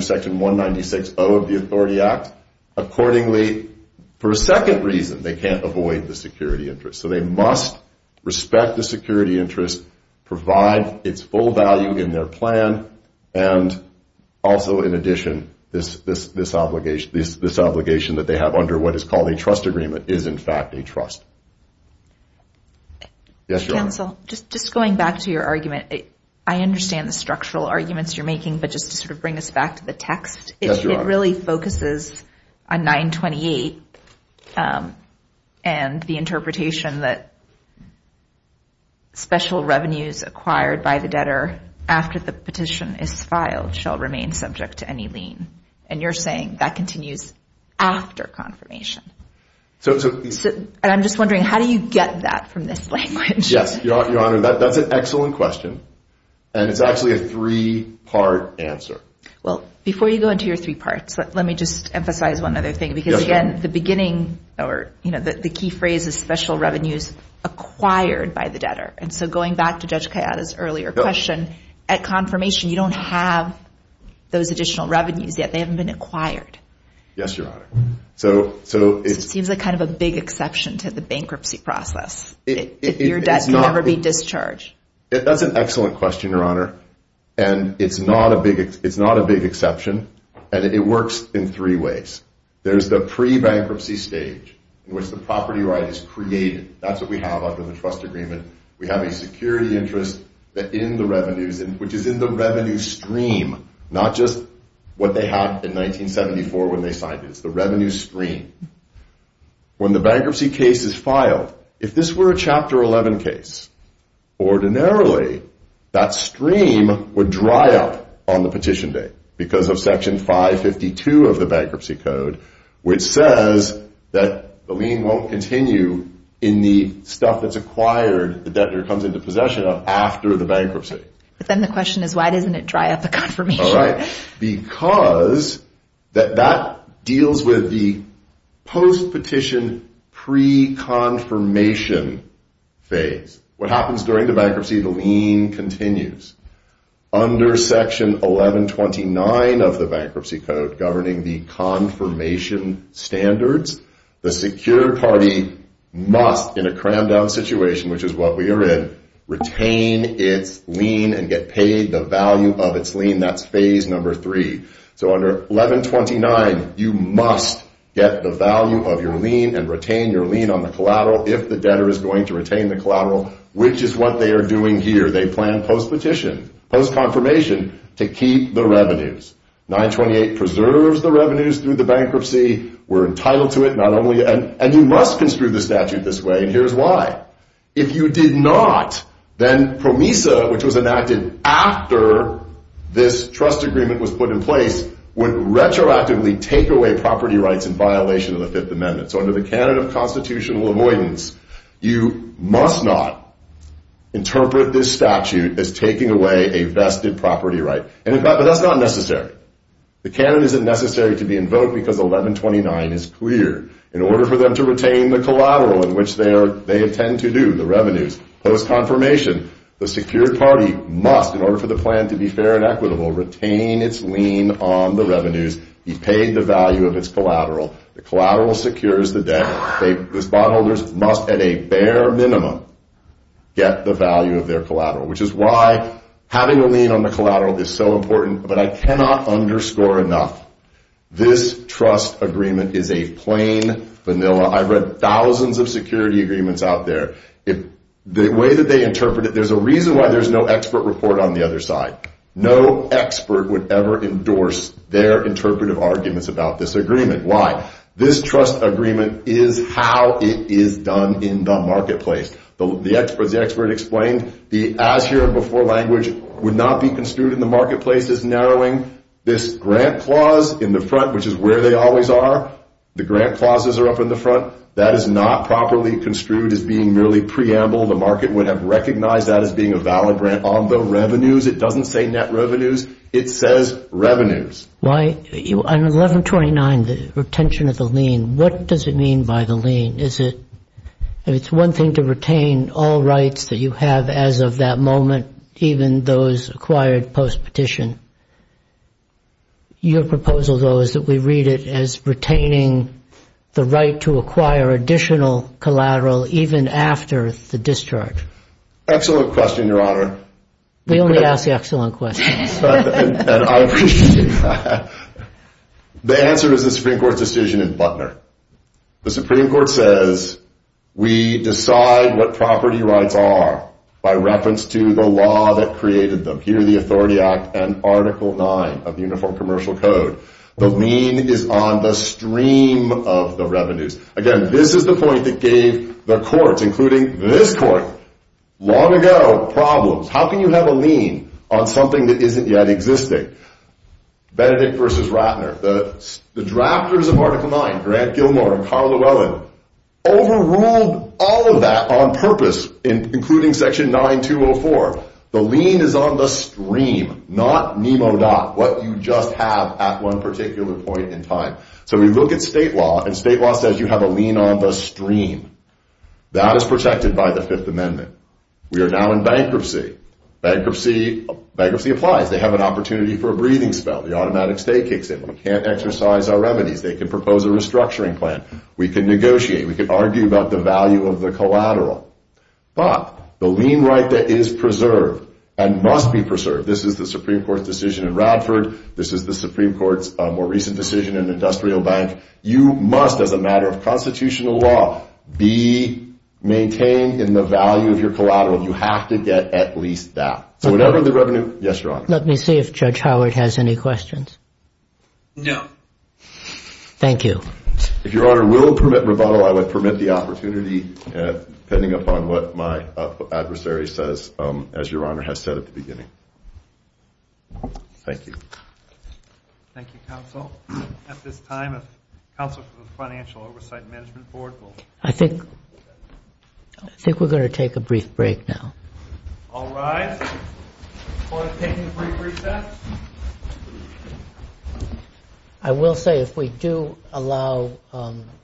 Section 196.0 of the Authority Act. Accordingly, for a second reason, they can't avoid the security interest. So they must respect the security interest, provide its full value in their plan, and also in addition, this obligation that they have under what is called a trust agreement is in fact a trust. Yes, Your Honor. Just going back to your argument, I understand the structural arguments you're making, but just to sort of bring us back to the text. It really focuses on 928 and the interpretation that special revenues acquired by the debtor after the petition is filed shall remain subject to any lien. And you're saying that continues after confirmation. And I'm just wondering, how do you get that from this language? Yes, Your Honor. That's an excellent question. And it's actually a three-part answer. Well, before you go into your three parts, let me just emphasize one other thing. Because again, the beginning or the key phrase is special revenues acquired by the debtor. And so going back to Judge Kayada's earlier question, at confirmation, you don't have those additional revenues. They haven't been acquired. Yes, Your Honor. So it seems like kind of a big exception to the bankruptcy process. Your debt can no longer be discharged. That's an excellent question, Your Honor. And it's not a big exception. And it works in three ways. There's the pre-bankruptcy stage in which the property right is created. That's what we have under the trust agreement. We have a security interest in the revenues, which is in the revenue stream, not just what they have in 1974 when they signed it. It's the revenue stream. When the bankruptcy case is filed, if this were a Chapter 11 case, ordinarily, that stream would dry up on the petition day because of Section 552 of the bankruptcy code, which says that the lien won't continue in the stuff that's acquired, But then the question is, why doesn't it dry up at confirmation? Because that deals with the post-petition pre-confirmation phase. What happens during the bankruptcy? The lien continues. Under Section 1129 of the bankruptcy code governing the confirmation standards, the secured party must, in a crammed-out situation, which is what we are in, retain its lien and get paid the value of its lien. That's phase number three. So under 1129, you must get the value of your lien and retain your lien on the collateral if the debtor is going to retain the collateral, which is what they are doing here. They plan post-petition, post-confirmation, to keep the revenues. 928 preserves the revenues through the bankruptcy. We're entitled to it. And you must construe the statute this way, and here's why. If you did not, then PROMESA, which was enacted after this trust agreement was put in place, would retroactively take away property rights in violation of the Fifth Amendment. So under the Canada Constitutional Avoidance, you must not interpret this statute as taking away a vested property right. But that's not necessary. The Canada isn't necessary to be invoked because 1129 is clear. In order for them to retain the collateral in which they intend to do the revenues, post-confirmation, the secured party must, in order for the plan to be fair and equitable, retain its lien on the revenues, be paid the value of its collateral. The collateral secures the debt. The bondholders must, at a bare minimum, get the value of their collateral, which is why having a lien on the collateral is so important. But I cannot underscore enough, this trust agreement is a plain vanilla. I've read thousands of security agreements out there. The way that they interpret it, there's a reason why there's no expert report on the other side. No expert would ever endorse their interpretive arguments about this agreement. Why? This trust agreement is how it is done in the marketplace. The expert explained the as-here-before language would not be construed in the marketplace as narrowing. This grant clause in the front, which is where they always are, the grant clauses are up in the front, that is not properly construed as being merely preamble. The market would have recognized that as being a valid grant on the revenues. It doesn't say net revenues. It says revenues. On 1129, the retention of the lien, what does it mean by the lien? It's one thing to retain all rights that you have as of that moment, even those acquired post-petition. Your proposal, though, is that we read it as retaining the right to acquire additional collateral even after the discharge. Excellent question, Your Honor. We only ask excellent questions. The Supreme Court says we decide what property rights are by reference to the law that created them. Here are the Authority Act and Article IX of Uniform Commercial Code. The lien is on the stream of the revenues. Again, this is the point that gave the courts, including this court, long ago, problems. How can you have a lien on something that isn't yet existing? Benedict v. Ratner. The drafters of Article IX, Grant Gilmour and Carl Llewellyn, overruled all of that on purpose, including Section 9204. The lien is on the stream, not mimoed up, what you just have at one particular point in time. So we look at state law, and state law says you have a lien on the stream. That is protected by the Fifth Amendment. We are now in bankruptcy. Bankruptcy applies. They have an opportunity for a breathing spell. The automatic stay kicks in. We can't exercise our remedies. They can propose a restructuring plan. We can negotiate. We can argue about the value of the collateral. But the lien right that is preserved and must be preserved, this is the Supreme Court's decision in Radford. This is the Supreme Court's more recent decision in the Industrial Bank. You must, as a matter of constitutional law, be maintained in the value of your collateral. You have to get at least that. Yes, Your Honor. Let me see if Judge Howard has any questions. No. Thank you. If Your Honor will permit rebuttal, I would permit the opportunity, depending upon what my adversary says, as Your Honor has said at the beginning. Thank you. Thank you, Counsel. At this time, the Counsel for the Financial Oversight and Management Board will... I think we're going to take a brief break now. All rise. Court is taking a brief recess. I will say, if we do allow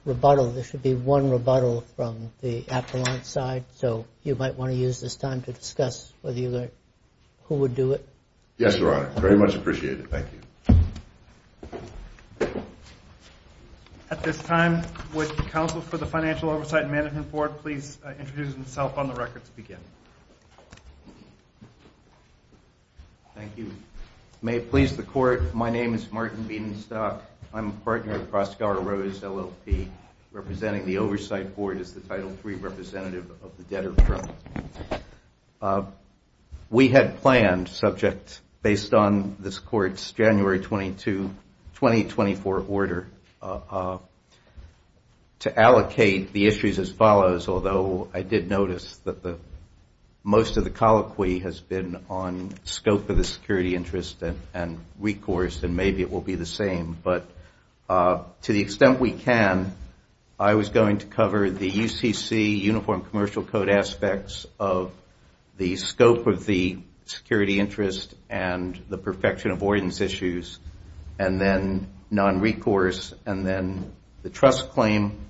rebuttal, there should be one rebuttal from the affluent side, so you might want to use this time to discuss whether you would... who would do it. Yes, Your Honor. Very much appreciated. Thank you. At this time, would the Counsel for the Financial Oversight and Management Board please introduce himself on the record to begin. Thank you. May it please the Court, my name is Martin Biedenstock. I'm a partner at Proskauer Rose, LLP, representing the Oversight Board as the Title III representative of the debtor front. We had planned, subject, based on this Court's January 22, 2024 order, to allocate the issues as follows, although I did notice that most of the colloquy has been on scope of the security interest and recourse, and maybe it will be the same. But to the extent we can, I was going to cover the ECC, the Uniform Commercial Code aspects of the scope of the security interest and the perfection avoidance issues, and then non-recourse, and then the trust claim.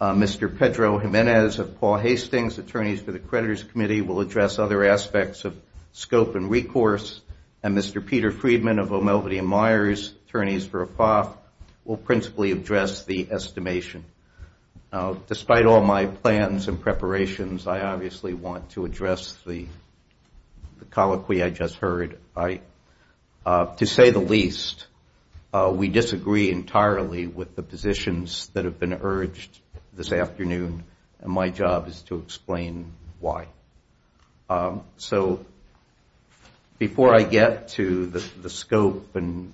Mr. Pedro Jimenez of Paul Hastings, Attorneys for the Creditors Committee, will address other aspects of scope and recourse, and Mr. Peter Friedman of O'Melveny & Myers, Attorneys for APOC, will principally address the estimation. Despite all my plans and preparations, I obviously want to address the colloquy I just heard. To say the least, we disagree entirely with the positions that have been urged this afternoon, and my job is to explain why. So before I get to the scope and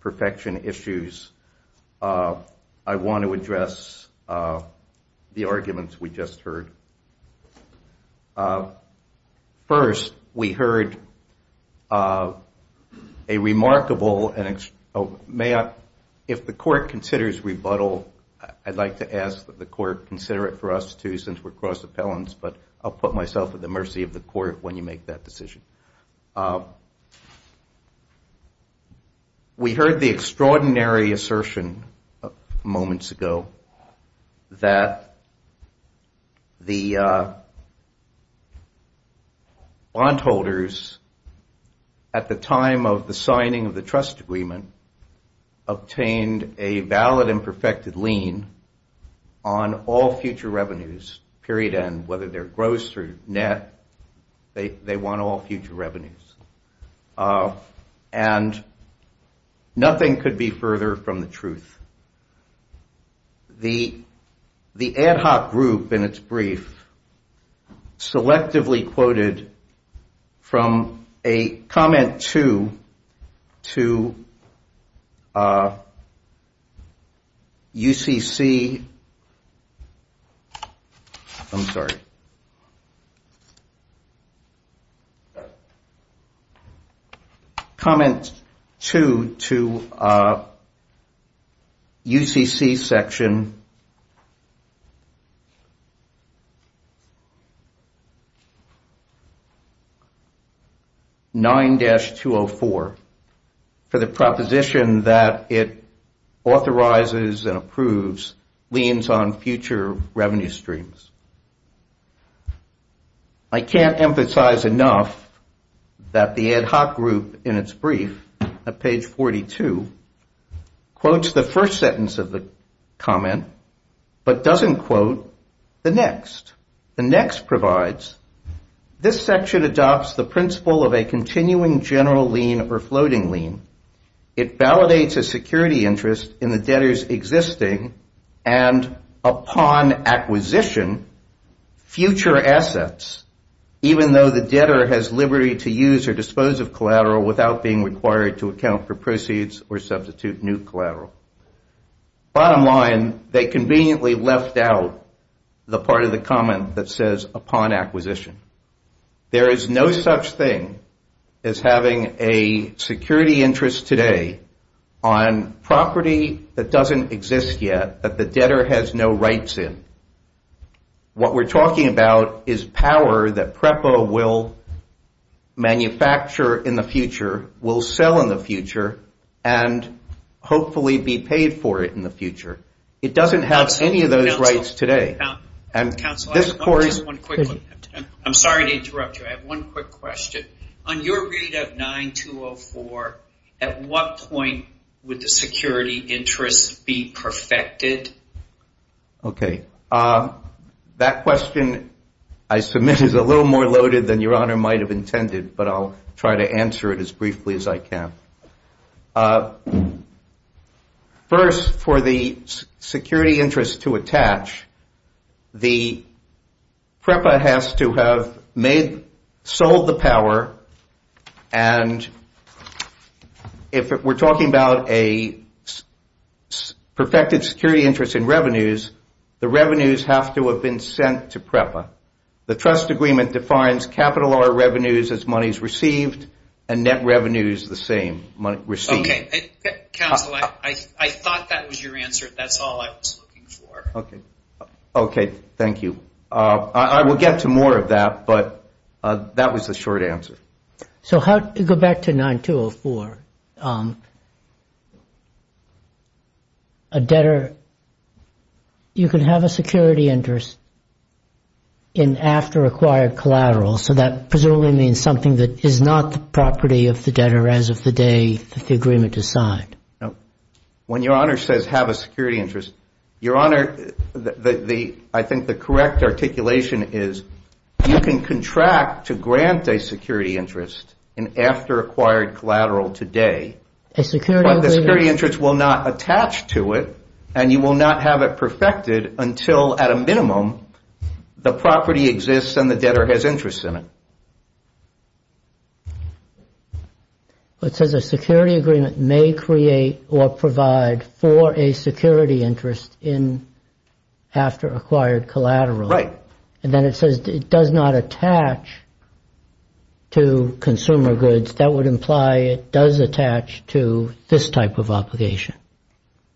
perfection issues, I want to address the arguments we just heard. First, we heard a remarkable, and if the court considers rebuttal, I'd like to ask that the court consider it for us too, since we're cross-appellants, but I'll put myself at the mercy of the court when you make that decision. We heard the extraordinary assertion moments ago that the bondholders at the time of the signing of the trust agreement obtained a valid and perfected lien on all future revenues, period, and whether they're gross or net, they want all future revenues. And nothing could be further from the truth. The ad hoc group in its brief selectively quoted from a comment to UCC, comment two to UCC section 9-204 for the proposition that it authorizes and approves liens on future revenue streams. I can't emphasize enough that the ad hoc group in its brief at page 42 quotes the first sentence of the comment but doesn't quote the next. The next provides, this section adopts the principle of a continuing general lien or floating lien. It validates a security interest in the debtor's existing and upon acquisition future assets, even though the debtor has liberty to use or dispose of collateral without being required to account for proceeds or substitute new collateral. Bottom line, they conveniently left out the part of the comment that says upon acquisition. There is no such thing as having a security interest today on property that doesn't exist yet that the debtor has no rights in. What we're talking about is power that PREPA will manufacture in the future, will sell in the future, and hopefully be paid for it in the future. It doesn't have any of those rights today. Counsel, I have one quick one. I'm sorry to interrupt you. I have one quick question. On your read of 9204, at what point would the security interest be perfected? Okay. That question I submit is a little more loaded than Your Honor might have intended, but I'll try to answer it as briefly as I can. First, for the security interest to attach, the PREPA has to have sold the power, and if we're talking about a perfected security interest in revenues, the revenues have to have been sent to PREPA. The trust agreement defines capital or revenues as monies received and net revenues the same, received. Counsel, I thought that was your answer. That's all I was looking for. Okay. Thank you. I will get to more of that, but that was the short answer. So go back to 9204. A debtor, you can have a security interest in after acquired collateral, so that presumably means something that is not the property of the debtor as of the day the agreement is signed. When Your Honor says have a security interest, Your Honor, I think the correct articulation is you can contract to grant a security interest in after acquired collateral today, but the security interest will not attach to it and you will not have it perfected until, at a minimum, the property exists and the debtor has interest in it. It says a security agreement may create or provide for a security interest in after acquired collateral. Right. Then it says it does not attach to consumer goods. That would imply it does attach to this type of obligation.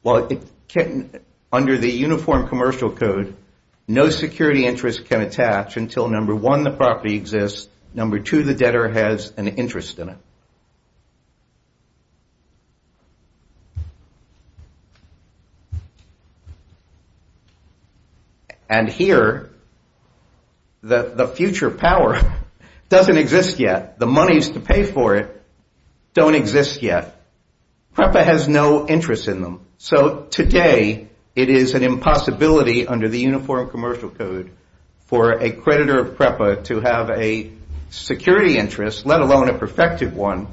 Well, under the Uniform Commercial Code, no security interest can attach until, number one, the property exists, number two, the debtor has an interest in it. And here, the future power doesn't exist yet. The monies to pay for it don't exist yet. PREPA has no interest in them, so today it is an impossibility under the Uniform Commercial Code for a creditor of PREPA to have a security interest, let alone a perfected one,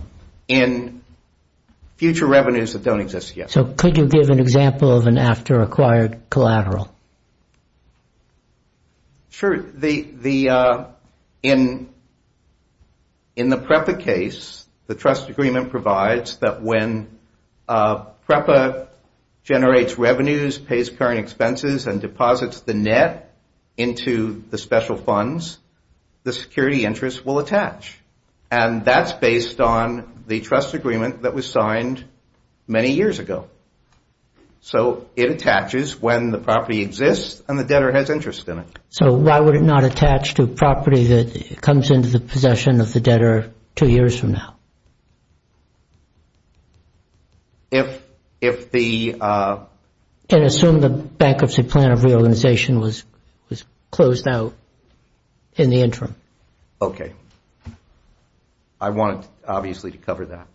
in future revenues that don't exist yet. So could you give an example of an after acquired collateral? Sure. In the PREPA case, the trust agreement provides that when PREPA generates revenues, pays current expenses and deposits the net into the special funds, the security interest will attach. And that's based on the trust agreement that was signed many years ago. So it attaches when the property exists and the debtor has interest in it. So why would it not attach to a property that comes into the possession of the debtor two years from now? If the... And assume the bankruptcy plan of reorganization was closed out in the interim. Okay. I want, obviously, to cover that.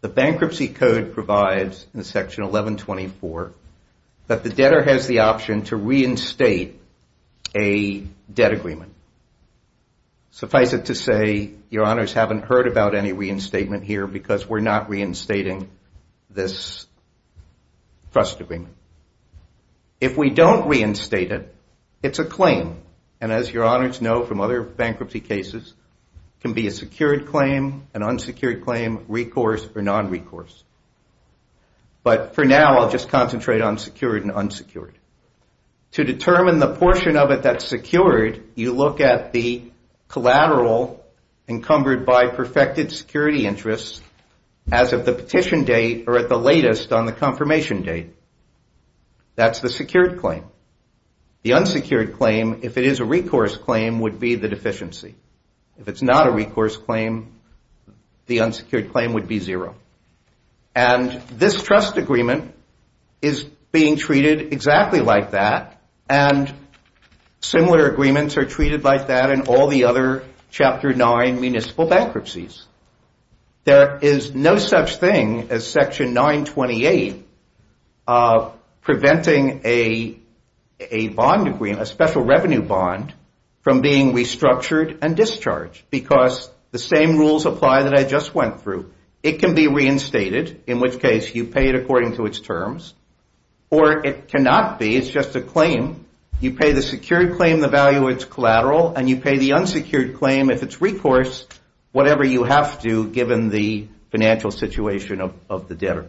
The Bankruptcy Code provides in Section 1124 that the debtor has the option to reinstate a debt agreement. Suffice it to say, Your Honors, haven't heard about any reinstatement here because we're not reinstating this trust agreement. If we don't reinstate it, it's a claim. And as Your Honors know from other bankruptcy cases, it can be a secured claim, an unsecured claim, recourse or non-recourse. But for now, I'll just concentrate on secured and unsecured. To determine the portion of it that's secured, you look at the collateral encumbered by perfected security interests as of the petition date or at the latest on the confirmation date. That's the secured claim. The unsecured claim, if it is a recourse claim, would be the deficiency. If it's not a recourse claim, the unsecured claim would be zero. And this trust agreement is being treated exactly like that and similar agreements are treated like that in all the other Chapter 9 municipal bankruptcies. There is no such thing as Section 928 preventing a bond agreement, a special revenue bond, from being restructured and discharged because the same rules apply that I just went through. It can be reinstated, in which case you pay it according to its terms, or it cannot be, it's just a claim. You pay the secured claim the value of its collateral and you pay the unsecured claim, if it's recourse, whatever you have to given the financial situation of the debtor.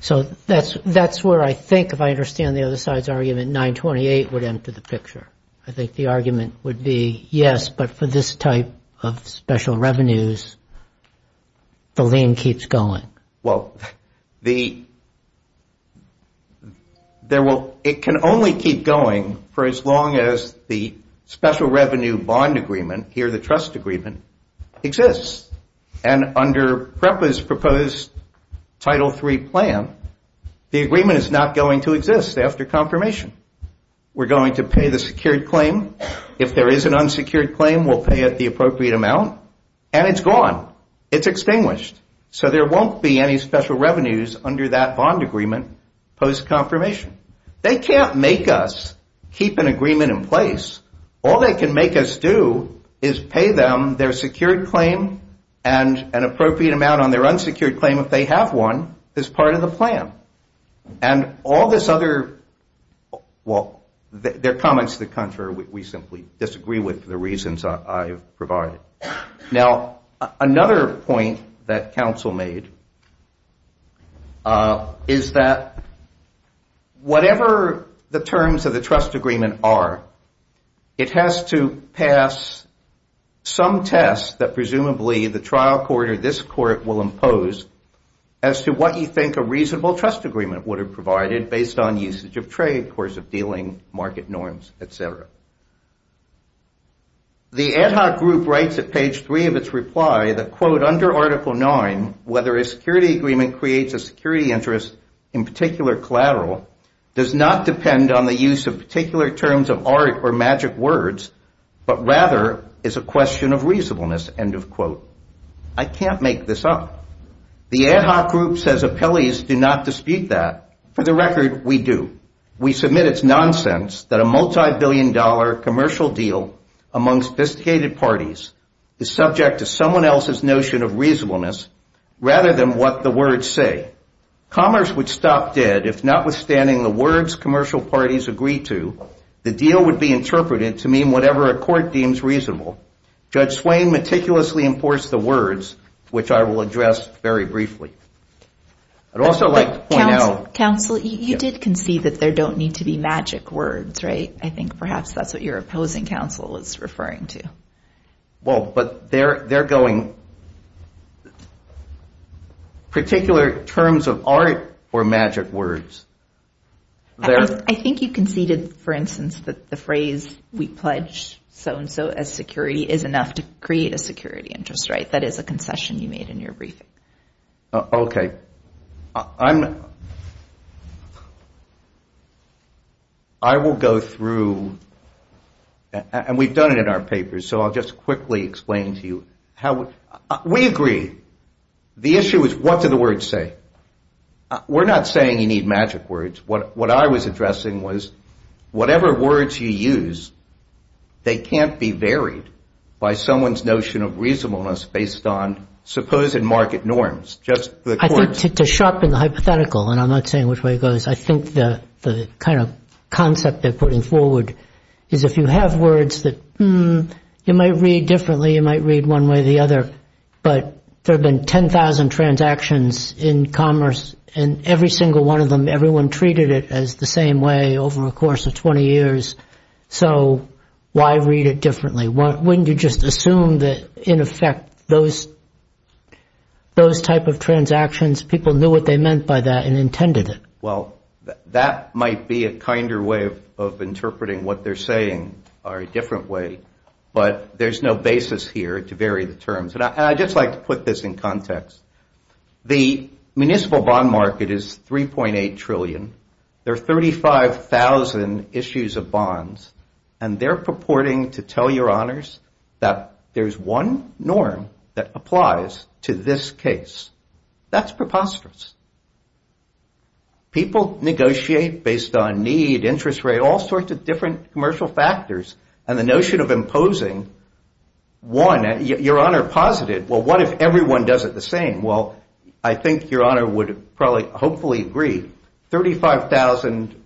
So that's where I think, if I understand the other side's argument, 928 would enter the picture. I think the argument would be, yes, but for this type of special revenues, the lien keeps going. Well, it can only keep going for as long as the special revenue bond agreement, here the trust agreement, exists. And under PREPA's proposed Title III plan, the agreement is not going to exist after confirmation. We're going to pay the secured claim. If there is an unsecured claim, we'll pay it the appropriate amount. And it's gone. It's extinguished. So there won't be any special revenues under that bond agreement post-confirmation. They can't make us keep an agreement in place. All they can make us do is pay them their secured claim and an appropriate amount on their unsecured claim, if they have one, as part of the plan. And all this other, well, there are comments to the contrary. We simply disagree with the reasons I provide. Now, another point that counsel made is that whatever the terms of the trust agreement are, it has to pass some test that presumably the trial court or this court will impose as to what you think a reasonable trust agreement would have provided based on usage of trade, course of dealing, market norms, et cetera. The ad hoc group writes at page three of its reply that, quote, under Article IX, whether a security agreement creates a security interest, in particular collateral, does not depend on the use of particular terms of art or magic words, but rather is a question of reasonableness, end of quote. I can't make this up. The ad hoc group says appellees do not dispute that. For the record, we do. We submit it's nonsense that a multibillion-dollar commercial deal amongst disdicated parties is subject to someone else's notion of reasonableness rather than what the words say. Commerce would stop dead if, notwithstanding the words commercial parties agree to, the deal would be interpreted to mean whatever a court deems reasonable. Judge Swain meticulously enforced the words, which I will address very briefly. I'd also like to point out- Counsel, you did concede that there don't need to be magic words, right? I think perhaps that's what your opposing counsel is referring to. Well, but they're going-particular terms of art or magic words. I think you conceded, for instance, that the phrase we pledge so-and-so as security is enough to create a security interest rate. That is a concession you made in your briefing. Okay. I will go through, and we've done it in our papers, so I'll just quickly explain to you how-we agree. The issue is what do the words say? We're not saying you need magic words. What I was addressing was whatever words you use, they can't be varied by someone's notion of reasonableness based on supposed market norms. I think it's a sharp and hypothetical, and I'm not saying which way it goes. I think the kind of concept they're putting forward is if you have words that you might read differently, you might read one way or the other, but there have been 10,000 transactions in commerce, and every single one of them, everyone treated it as the same way over the course of 20 years, so why read it differently? Wouldn't you just assume that, in effect, those type of transactions, people knew what they meant by that and intended it? Well, that might be a kinder way of interpreting what they're saying or a different way, but there's no basis here to vary the terms. And I'd just like to put this in context. The municipal bond market is $3.8 trillion. There are 35,000 issues of bonds, and they're purporting to tell your honors that there's one norm that applies to this case. That's preposterous. People negotiate based on need, interest rate, all sorts of different commercial factors, and the notion of imposing one, your honor posited, well, what if everyone does it the same? Well, I think your honor would probably hopefully agree, 35,000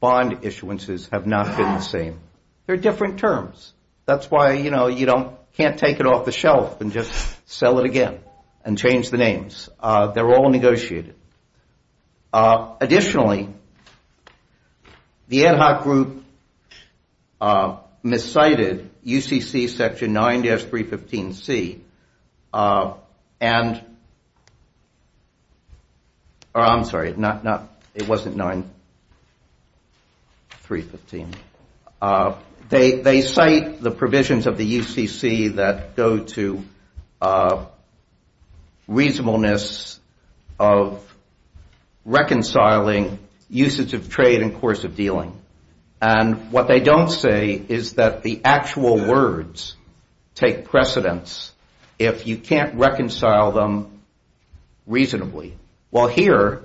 bond issuances have not been the same. They're different terms. That's why, you know, you can't take it off the shelf and just sell it again and change the names. They're all negotiated. Additionally, the ad hoc group miscited UCC Section 9-315C, and I'm sorry, it wasn't 9-315. They cite the provisions of the UCC that go to reasonableness of reconciling uses of trade and course of dealing. And what they don't say is that the actual words take precedence if you can't reconcile them reasonably. Well, here,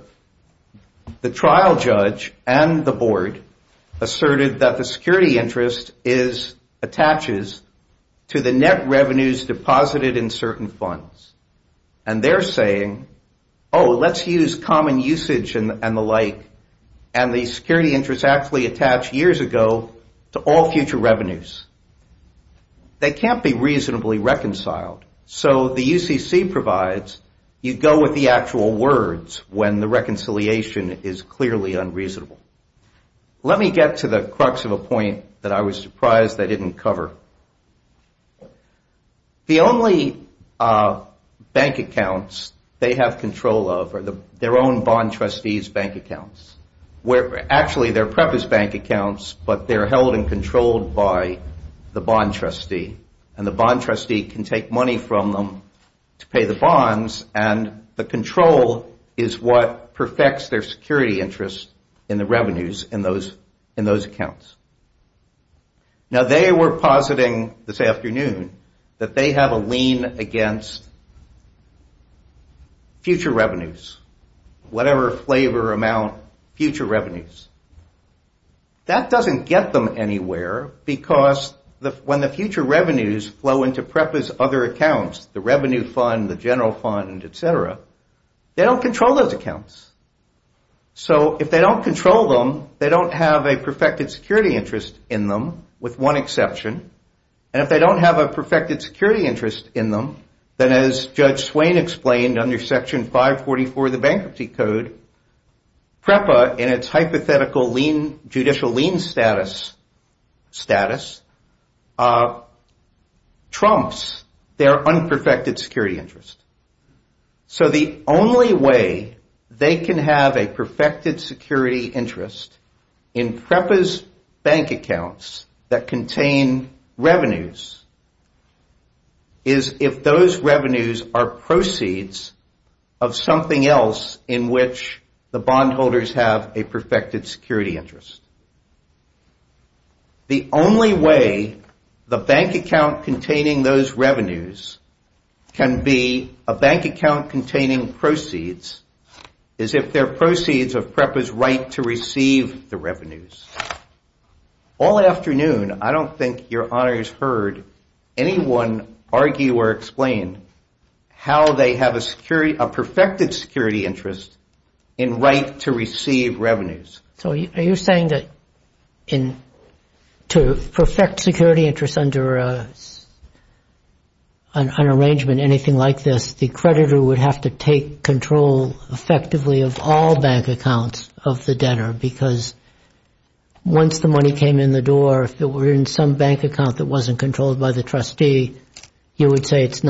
the trial judge and the board asserted that the security interest attaches to the net revenues deposited in certain funds. And they're saying, oh, let's use common usage and the like, and the security interest actually attached years ago to all future revenues. They can't be reasonably reconciled. So the UCC provides you go with the actual words when the reconciliation is clearly unreasonable. Let me get to the crux of the point that I was surprised they didn't cover. The only bank accounts they have control of are their own bond trustees' bank accounts, where actually their prep is bank accounts, but they're held and controlled by the bond trustee. And the bond trustee can take money from them to pay the bonds, and the control is what perfects their security interest in the revenues in those accounts. Now, they were positing this afternoon that they have a lien against future revenues, whatever flavor, amount, future revenues. That doesn't get them anywhere because when the future revenues flow into PREPA's other accounts, the revenue fund, the general fund, et cetera, they don't control those accounts. So if they don't control them, they don't have a perfected security interest in them, with one exception. And if they don't have a perfected security interest in them, then as Judge Swain explained under Section 544 of the Bankruptcy Code, PREPA, in its hypothetical judicial lien status, trumps their unperfected security interest. So the only way they can have a perfected security interest in PREPA's bank accounts that contain revenues is if those revenues are proceeds of something else in which the bondholders have a perfected security interest. The only way the bank account containing those revenues can be a bank account containing proceeds is if they're proceeds of PREPA's right to receive the revenues. All afternoon, I don't think your honors heard anyone argue or explain how they have a perfected security interest in right to receive revenues. So are you saying that to perfect security interest under an arrangement, anything like this, the creditor would have to take control effectively of all bank accounts of the debtor, because once the money came in the door, if it were in some bank account that wasn't controlled by the trustee, you would say it's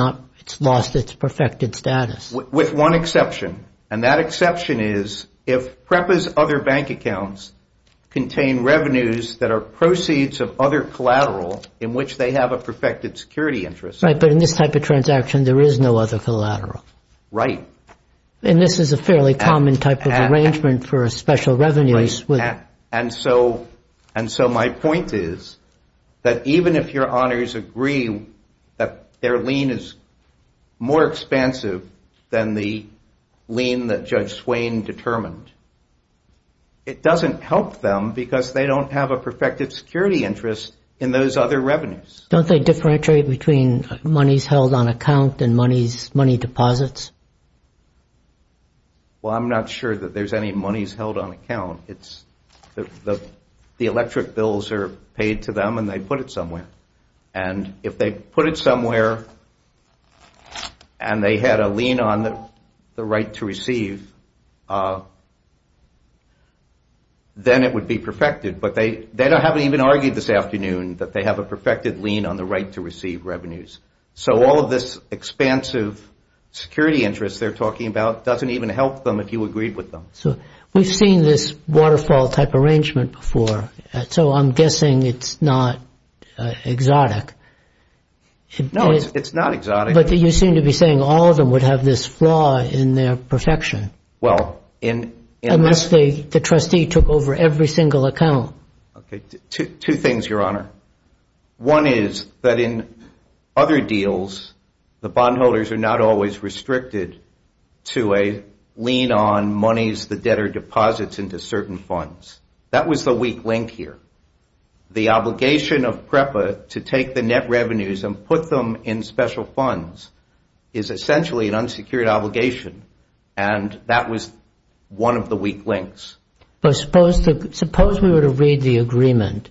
lost its perfected status? With one exception, and that exception is if PREPA's other bank accounts contain revenues that are proceeds of other collateral in which they have a perfected security interest. Right, but in this type of transaction, there is no other collateral. Right. And this is a fairly common type of arrangement for special revenues. And so my point is that even if your honors agree that their lien is more expensive than the lien that Judge Swain determined, it doesn't help them because they don't have a perfected security interest in those other revenues. Don't they differentiate between monies held on account and money deposits? Well, I'm not sure that there's any monies held on account. The electric bills are paid to them and they put it somewhere. And if they put it somewhere and they had a lien on the right to receive, then it would be perfected. But they haven't even argued this afternoon that they have a perfected lien on the right to receive revenues. So all of this expansive security interest they're talking about doesn't even help them if you agree with them. So we've seen this waterfall type arrangement before, so I'm guessing it's not exotic. No, it's not exotic. But you seem to be saying all of them would have this flaw in their perfection. Unless the trustee took over every single account. Two things, Your Honor. One is that in other deals, the bondholders are not always restricted to a lien on monies the debtor deposits into certain funds. That was the weak link here. The obligation of PREPA to take the net revenues and put them in special funds is essentially an unsecured obligation. And that was one of the weak links. But suppose we were to read the agreement,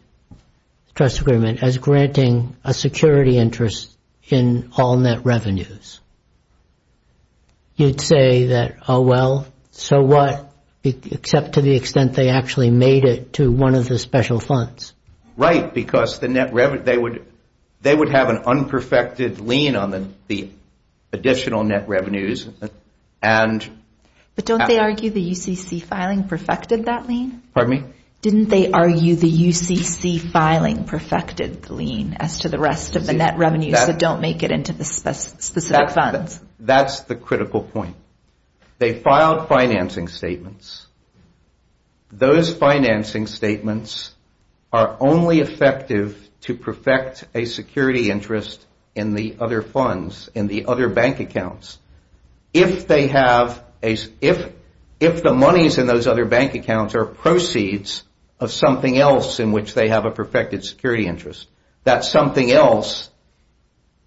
trust agreement, as granting a security interest in all net revenues. You'd say that, oh, well, so what, except to the extent they actually made it to one of the special funds. Right, because they would have an unperfected lien on the additional net revenues. But don't they argue the UCC filing perfected that lien? Pardon me? Didn't they argue the UCC filing perfected the lien as to the rest of the net revenues that don't make it into the specific funds? That's the critical point. They filed financing statements. Those financing statements are only effective to perfect a security interest in the other funds, in the other bank accounts, if the monies in those other bank accounts are proceeds of something else in which they have a perfected security interest. That something else,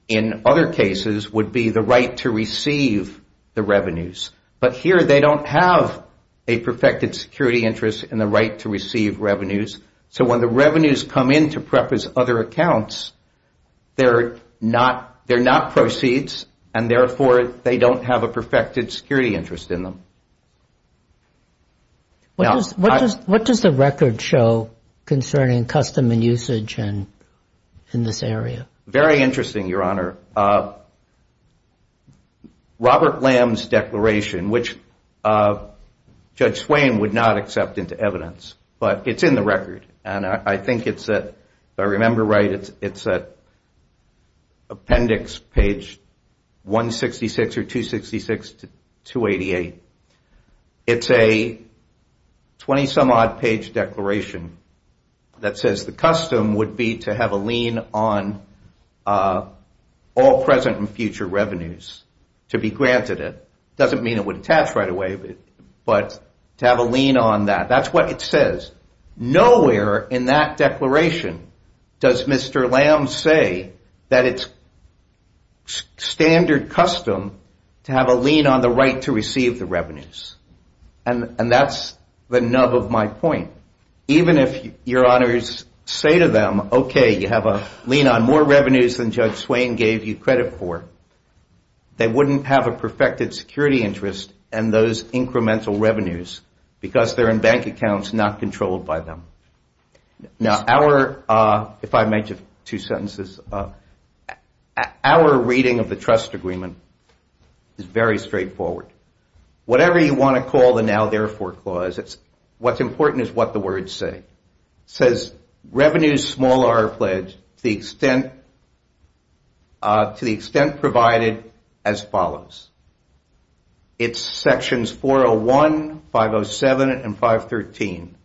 in other cases, would be the right to receive the revenues. But here they don't have a perfected security interest in the right to receive revenues. So when the revenues come in to PREPA's other accounts, they're not proceeds, and therefore they don't have a perfected security interest in them. What does the record show concerning custom and usage in this area? Very interesting, Your Honor. Robert Lamb's declaration, which Judge Swain would not accept into evidence, but it's in the record. And I think it's at, if I remember right, it's at appendix page 166 or 266 to 288. It's a 20-some-odd page declaration that says the custom would be to have a lien on all present and future revenues to be granted it. It doesn't mean it would attach right away, but to have a lien on that. That's what it says. Nowhere in that declaration does Mr. Lamb say that it's standard custom to have a lien on the right to receive the revenues. And that's the nub of my point. Even if Your Honors say to them, okay, you have a lien on more revenues than Judge Swain gave you credit for, they wouldn't have a perfected security interest in those incremental revenues because they're in bank accounts not controlled by them. Now, our, if I may, just two sentences. Our reading of the trust agreement is very straightforward. Whatever you want to call the now therefore clause, what's important is what the words say. It says, revenues small are pledged to the extent provided as follows. It's sections 401, 507, and 513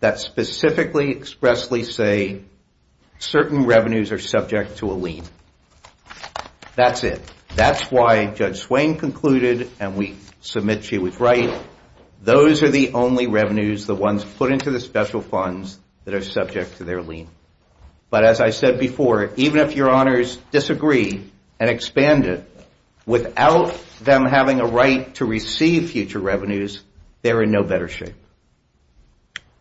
that specifically expressly say certain revenues are subject to a lien. That's it. That's why Judge Swain concluded, and we submit she was right, those are the only revenues, the ones put into the special funds that are subject to their lien. But as I said before, even if Your Honors disagree and expand it, without them having a right to receive future revenues, they're in no better shape.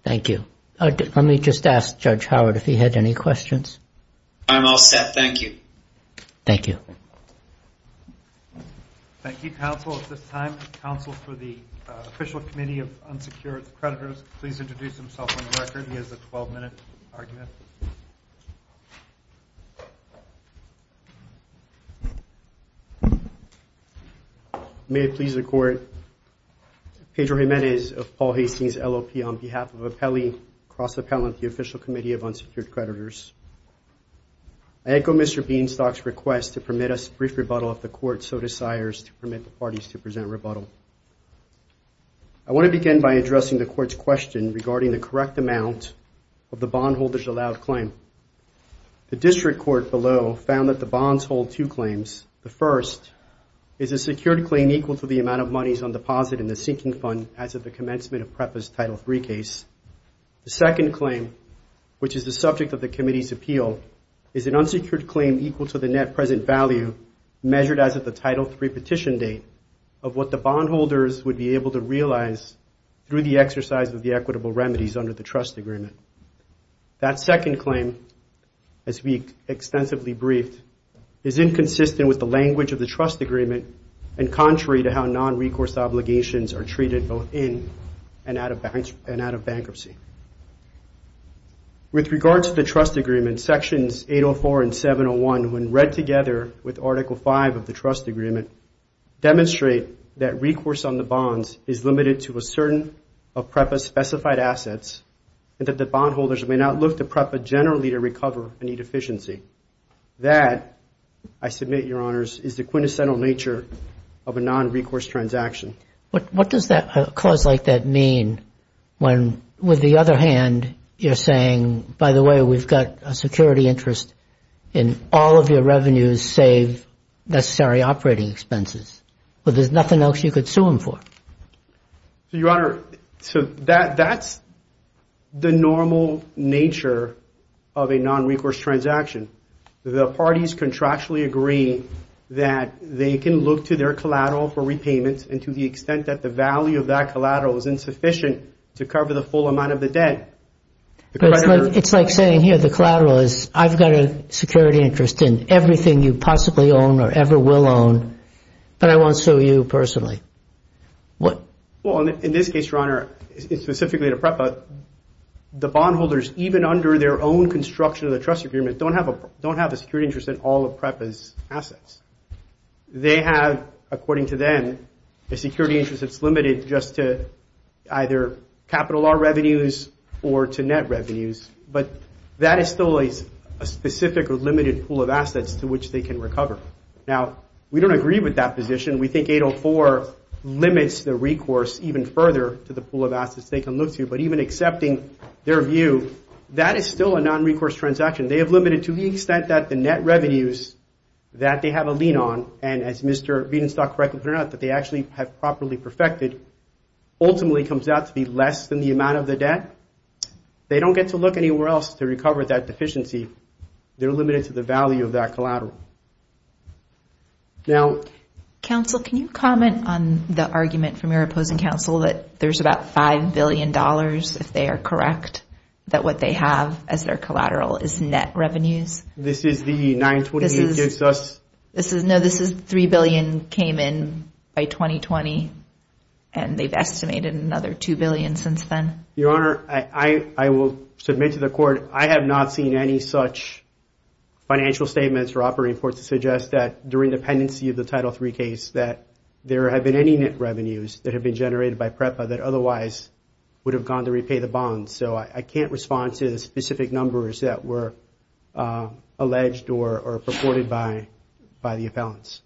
Thank you. Let me just ask Judge Howard if he had any questions. I'm all set. Thank you. Thank you. Thank you, counsel. At this time, counsel for the Official Committee of Unsecured Creditors, please introduce himself and his record. He has a 12-minute argument. May it please the Court, Pedro Jimenez of Paul Hastings, LOP, on behalf of Appellee Cross-Appellant, the Official Committee of Unsecured Creditors. I echo Mr. Beanstalk's request to permit us a brief rebuttal if the Court so desires to permit the parties to present a rebuttal. I want to begin by addressing the Court's question regarding the correct amount of the bondholder's allowed claim. The district court below found that the bonds hold two claims. The first is a secured claim equal to the amount of monies on deposit in the sinking fund as of the commencement of PREPA's Title III case. The second claim, which is the subject of the committee's appeal, is an unsecured claim equal to the net present value measured as of the Title III petition date of what the bondholders would be able to realize through the exercise of the equitable remedies under the trust agreement. That second claim, as we extensively briefed, is inconsistent with the language of the trust agreement and contrary to how non-recourse obligations are treated in and out of bankruptcy. With regard to the trust agreement, Sections 804 and 701, when read together with Article V of the trust agreement, demonstrate that recourse on the bonds is limited to a certain of PREPA's specified assets and that the bondholders may not look to PREPA generally to recover any deficiency. That, I submit, Your Honors, is the quintessential nature of a non-recourse transaction. What does a clause like that mean when, with the other hand, you're saying, by the way, we've got a security interest in all of your revenues save necessary operating expenses, but there's nothing else you could sue them for? Your Honor, that's the normal nature of a non-recourse transaction. The parties contractually agree that they can look to their collateral for repayments and to the extent that the value of that collateral is insufficient to cover the full amount of the debt. It's like saying, here, the collateral is, I've got a security interest in everything you possibly own or ever will own, but I won't sue you personally. Well, in this case, Your Honor, it's specifically to PREPA. The bondholders, even under their own construction of the trust agreement, don't have a security interest in all of PREPA's assets. They have, according to them, a security interest that's limited just to either capital or revenues or to net revenues, but that is still a specific or limited pool of assets to which they can recover. Now, we don't agree with that position. We think 804 limits the recourse even further to the pool of assets they can look to, but even accepting their view, that is still a non-recourse transaction. They have limited to the extent that the net revenues that they have a lien on, and as Mr. Bedenstock correctly pointed out, that they actually have properly perfected, ultimately comes out to be less than the amount of the debt. They don't get to look anywhere else to recover that deficiency. They're limited to the value of that collateral. Now... Counsel, can you comment on the argument from your opposing counsel that there's about $5 billion, if they are correct, that what they have as their collateral is net revenues? This is the 920 that gives us... No, this is $3 billion came in by 2020, and they've estimated another $2 billion since then. Your Honor, I will submit to the court, I have not seen any such financial statements or operating reports to suggest that during the pendency of the Title III case that there have been any net revenues that have been generated by PREPA that otherwise would have gone to repay the bonds. So I can't respond to the specific numbers that were alleged or purported by the appellants.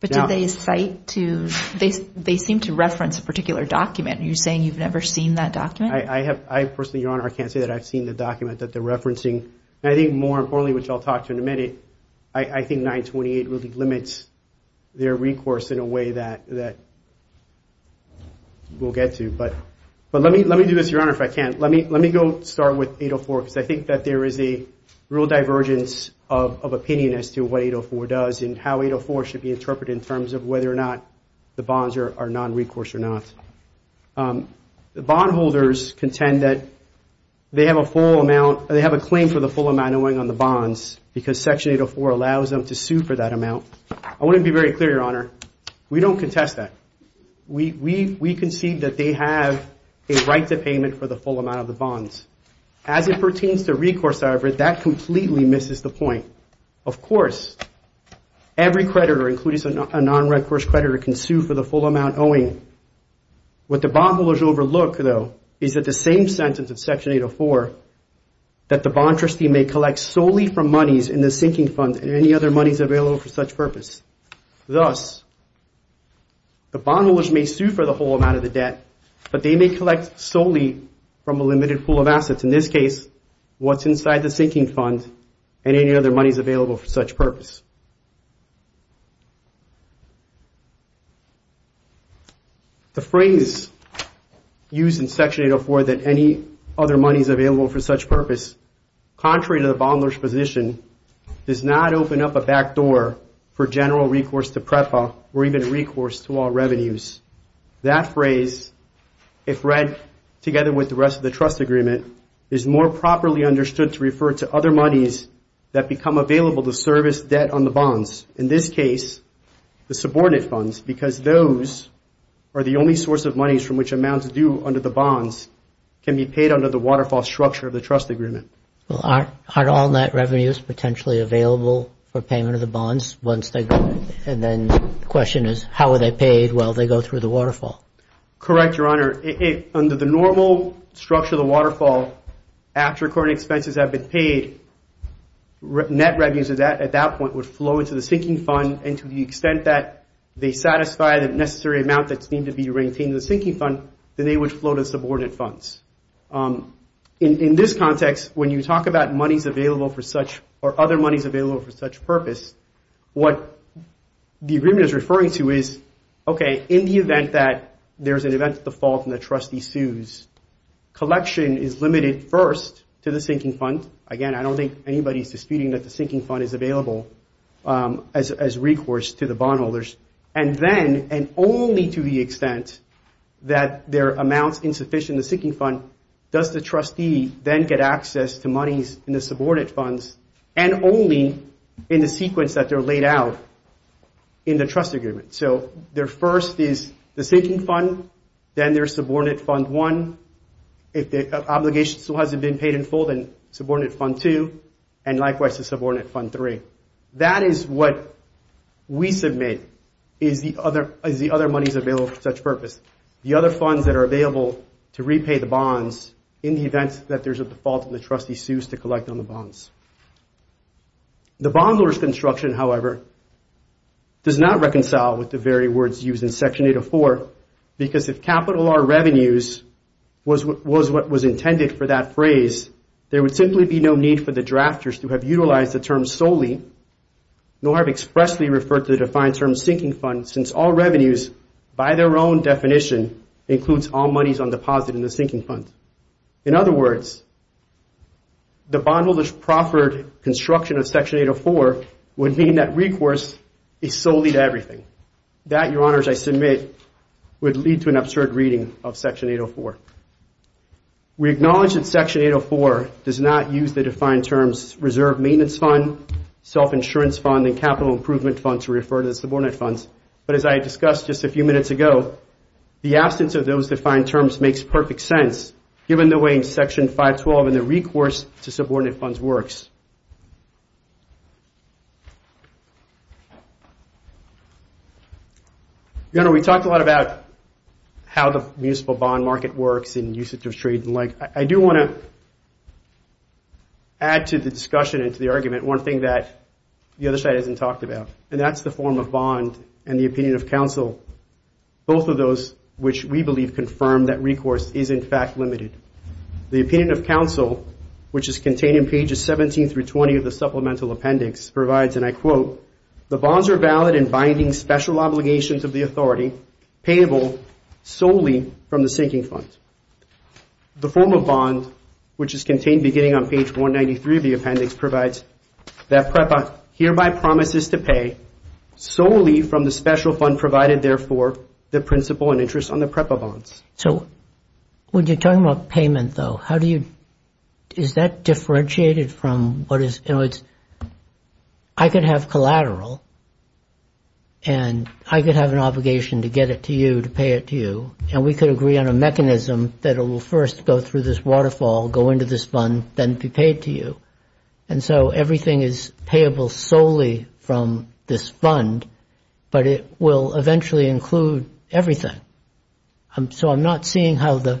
But do they cite to... They seem to reference a particular document. Are you saying you've never seen that document? I personally, Your Honor, I can't say that I've seen the document that they're referencing. I think more importantly, which I'll talk to in a minute, I think 928 really limits their recourse in a way that we'll get to. But let me do this, Your Honor, if I can. Let me go start with 804, because I think that there is a real divergence of opinion as to what 804 does and how 804 should be interpreted in terms of whether or not the bonds are non-recourse or not. The bondholders contend that they have a claim for the full amount owing on the bonds, because Section 804 allows them to sue for that amount. I want to be very clear, Your Honor. We don't contest that. We concede that they have a right to payment for the full amount of the bonds. As it pertains to recourse, however, that completely misses the point. Of course, every creditor, including a non-recourse creditor, can sue for the full amount owing. What the bondholders overlook, though, is that the same sentence of Section 804, that the bond trustee may collect solely from monies in the sinking fund and any other monies available for such purpose. Thus, the bondholders may sue for the full amount of the debt, but they may collect solely from a limited pool of assets. In this case, what's inside the sinking fund and any other monies available for such purpose. The phrase used in Section 804 that any other monies available for such purpose, contrary to the bondholder's position, does not open up a back door for general recourse to PREFA or even recourse to all revenues. That phrase, if read together with the rest of the trust agreement, is more properly understood to refer to other monies that become available to service debt on the bonds. In this case, the subordinate funds, because those are the only source of monies from which amounts due under the bonds can be paid under the waterfall structure of the trust agreement. Are all net revenues potentially available for payment of the bonds once they go, and then the question is, how are they paid while they go through the waterfall? Correct, Your Honor. Under the normal structure of the waterfall, after current expenses have been paid, net revenues at that point would flow into the sinking fund, and to the extent that they satisfy the necessary amount that seems to be retained in the sinking fund, then they would flow to subordinate funds. In this context, when you talk about monies available for such, or other monies available for such purpose, what the agreement is referring to is, okay, in the event that there's an event of default and the trustee sues, collection is limited first to the sinking fund. Again, I don't think anybody is disputing that the sinking fund is available as recourse to the bondholders. And then, and only to the extent that there are amounts insufficient in the sinking fund, does the trustee then get access to monies in the subordinate funds, and only in the sequence that they're laid out in the trust agreement. So their first is the sinking fund, then there's subordinate fund one. If the obligation still hasn't been paid in full, then subordinate fund two, and likewise to subordinate fund three. That is what we submit in the other monies available for such purpose. The other funds that are available to repay the bonds in the event that there's a default and the trustee sues to collect on the bonds. The bondholders construction, however, does not reconcile with the very words used in section 804, because if capital R revenues was what was intended for that phrase, there would simply be no need for the drafters to have utilized the term solely, nor have expressly referred to the defined term sinking fund, since all revenues by their own definition includes all monies on deposit in the sinking fund. In other words, the bondholders proffered construction of section 804 would mean that recourse is solely to everything. That, your honors, I submit, would lead to an absurd reading of section 804. We acknowledge that section 804 does not use the defined terms reserve maintenance fund, self-insurance fund, and capital improvement fund to refer to the subordinate funds, but as I discussed just a few minutes ago, the absence of those defined terms makes perfect sense, given the way section 512 and the recourse to subordinate funds works. Your honor, we talked a lot about how the municipal bond market works and usage of trade and the like. I do want to add to the discussion and to the argument one thing that the other side hasn't talked about, and that's the form of bond and the opinion of counsel. Both of those, which we believe confirm that recourse is in fact limited. The opinion of counsel, which is contained in pages 17 through 18, 17 through 20 of the supplemental appendix provides, and I quote, the bonds are valid in binding special obligations of the authority payable solely from the sinking funds. The form of bond, which is contained beginning on page 193 of the appendix, provides that PREPA hereby promises to pay solely from the special fund provided, therefore, the principal and interest on the PREPA bonds. So, when you're talking about payment, though, is that differentiated from what is, you know, I could have collateral and I could have an obligation to get it to you, to pay it to you, and we could agree on a mechanism that it will first go through this waterfall, go into this fund, then be paid to you. And so everything is payable solely from this fund, but it will eventually include everything. So I'm not seeing how the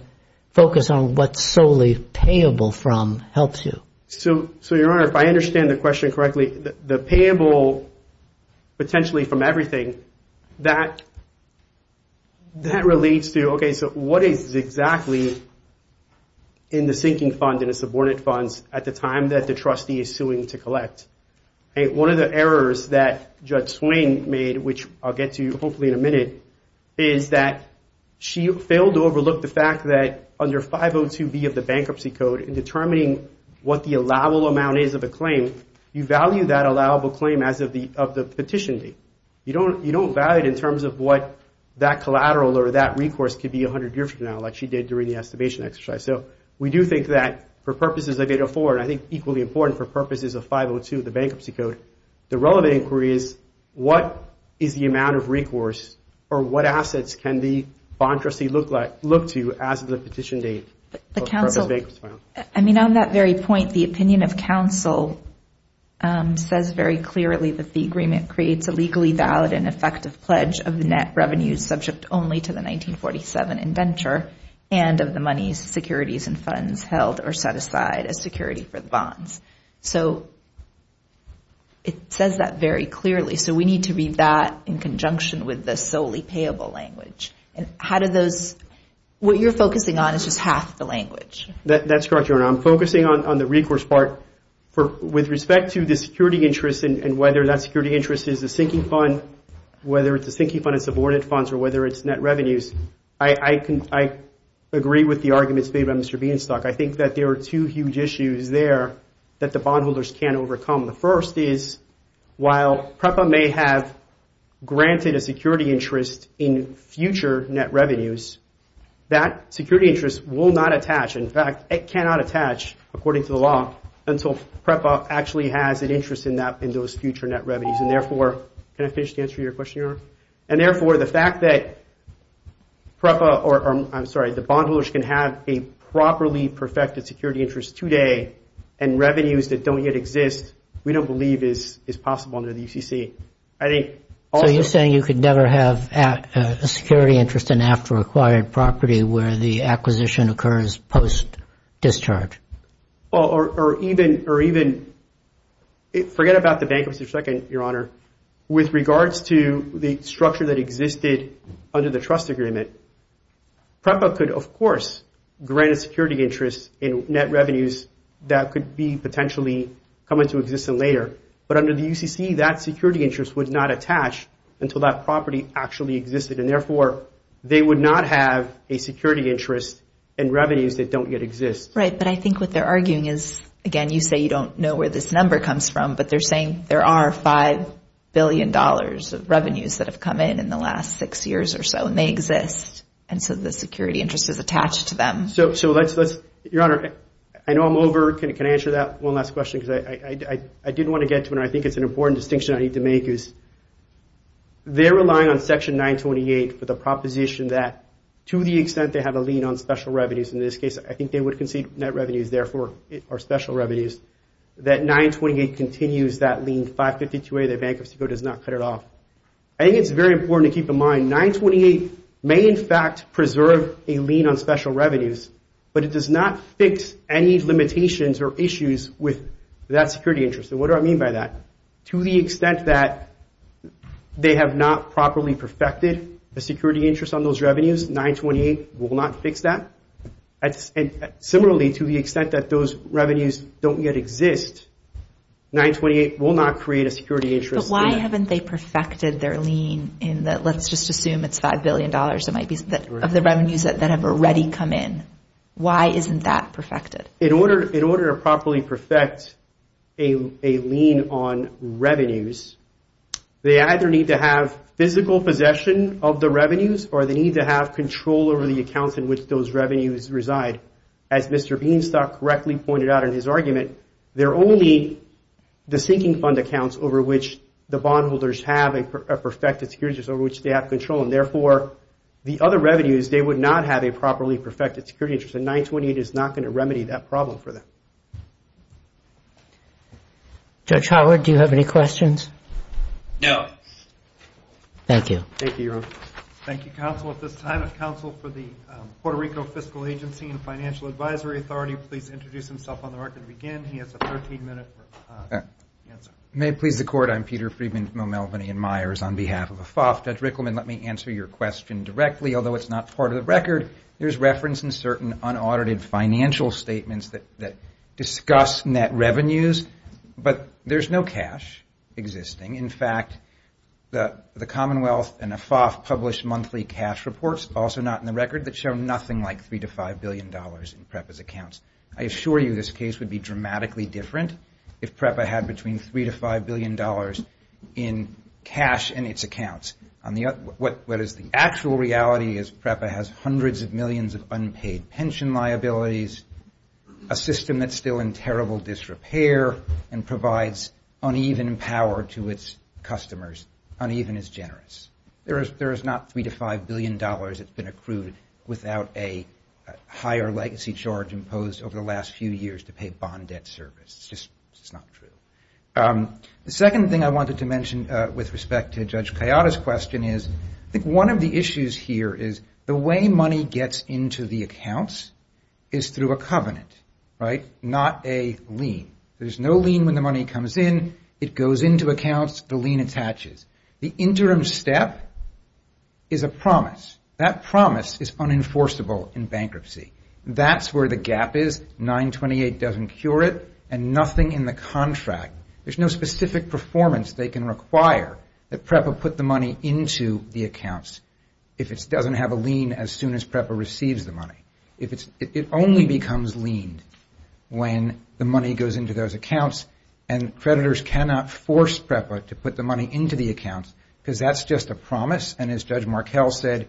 focus on what's solely payable from helps you. So, Your Honor, if I understand the question correctly, the payable potentially from everything, that relates to, okay, so what is exactly in the sinking fund and the subordinate funds at the time that the trustee is suing to collect? One of the errors that Judge Swain made, which I'll get to hopefully in a minute, is that she failed to overlook the fact that under 502B of the bankruptcy code in determining what the allowable amount is of a claim, you value that allowable claim as of the petition date. You don't value it in terms of what that collateral or that recourse could be 100 years from now, like she did during the estimation exercise. So, we do think that for purposes of 804, and I think equally important for purposes of 502 of the bankruptcy code, the relevant inquiry is what is the amount of recourse or what assets can the bond trustee look to as of the petition date? I mean, on that very point, the opinion of counsel says very clearly that the agreement creates a legally valid and effective pledge of the net revenues subject only to the 1947 indenture and of the money, securities, and funds held or set aside as security for the bonds. So, it says that very clearly. So, we need to read that in conjunction with the solely payable language. And how do those, what you're focusing on is just half the language. That's correct, Your Honor. I'm focusing on the recourse part. With respect to the security interest and whether that security interest is the sinking fund, whether it's a sinking fund, it's a boarded fund, or whether it's net revenues, I agree with the arguments made on Mr. Bean's talk. I think that there are two huge issues there that the bondholders can't overcome. The first is while PREPA may have granted a security interest in future net revenues, that security interest will not attach. In fact, it cannot attach, according to the law, until PREPA actually has an interest in those future net revenues. And therefore, can I finish the answer to your question, Your Honor? And therefore, the fact that PREPA, or I'm sorry, the bondholders can have a properly perfected security interest today and revenues that don't yet exist, we don't believe is possible under the DCC. So, you're saying you could never have a security interest in after-acquired property where the acquisition occurs post-discharge? With regards to the structure that existed under the trust agreement, PREPA could, of course, grant a security interest in net revenues that could potentially come into existence later. But under the DCC, that security interest would not attach until that property actually existed. And therefore, they would not have a security interest in revenues that don't yet exist. Right, but I think what they're arguing is, again, you say you don't know where this number comes from, but they're saying there are $5 billion of revenues that have come in in the last six years or so, and they exist until the security interest is attached to them. So, Your Honor, I know I'm over. Can I answer that one last question? Because I did want to get to it, and I think it's an important distinction I need to make, is they're relying on Section 928 for the proposition that, to the extent they have a lien on special revenues in this case, I think they would concede net revenues, therefore, are special revenues, that 928 continues that lien, 552A, the bankruptcy bill does not cut it off. I think it's very important to keep in mind, 928 may, in fact, preserve a lien on special revenues, but it does not fix any limitations or issues with that security interest. And what do I mean by that? To the extent that they have not properly perfected the security interest on those revenues, 928 will not fix that. Similarly, to the extent that those revenues don't yet exist, 928 will not create a security interest. But why haven't they perfected their lien in that, let's just assume it's $5 billion of the revenues that have already come in. Why isn't that perfected? In order to properly perfect a lien on revenues, they either need to have physical possession of the revenues, or they need to have control over the accounts in which those revenues reside. As Mr. Beanstalk correctly pointed out in his argument, there are only the sinking fund accounts over which the bondholders have a perfected security interest over which they have control. And therefore, the other revenues, they would not have a properly perfected security interest, and 928 is not going to remedy that problem for them. Judge Howard, do you have any questions? No. Thank you. Thank you, counsel. At this time, the counsel for the Puerto Rico Fiscal Agency and Financial Advisory Authority please introduce himself on the record again. He has a 13-minute answer. You may plead the court. I'm Peter Friedman from O'Melveny & Myers on behalf of AFOF. Judge Rickleman, let me answer your question directly. Although it's not part of the record, there's reference in certain unaudited financial statements that discuss net revenues, but there's no cash existing. In fact, the Commonwealth and AFOF publish monthly cash reports, also not in the record, that show nothing like $3 to $5 billion in PREPA's accounts. I assure you this case would be dramatically different if PREPA had between $3 to $5 billion in cash in its accounts. What is the actual reality is PREPA has hundreds of millions of unpaid pension liabilities, a system that's still in terrible disrepair and provides uneven power to its customers, uneven as generous. There is not $3 to $5 billion that's been accrued without a higher legacy charge imposed over the last few years to pay bond debt service. It's just not true. The second thing I wanted to mention with respect to Judge Kayada's question is I think one of the issues here is the way money gets into the accounts is through a covenant, right? Not a lien. There's no lien when the money comes in. It goes into accounts. The lien attaches. The interim step is a promise. That promise is unenforceable in bankruptcy. That's where the gap is. 928 doesn't cure it and nothing in the contract. There's no specific performance they can require that PREPA put the money into the accounts if it doesn't have a lien as soon as PREPA receives the money. It only becomes lien when the money goes into those accounts and creditors cannot force PREPA to put the money into the accounts because that's just a promise and as Judge Markell said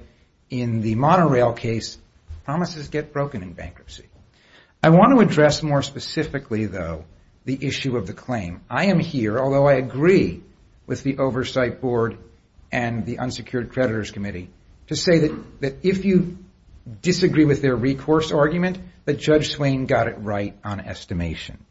in the monorail case, promises get broken in bankruptcy. I want to address more specifically, though, the issue of the claim. I am here, although I agree with the oversight board and the unsecured creditors committee, to say that if you disagree with their recourse argument, that Judge Swain got it right on estimation.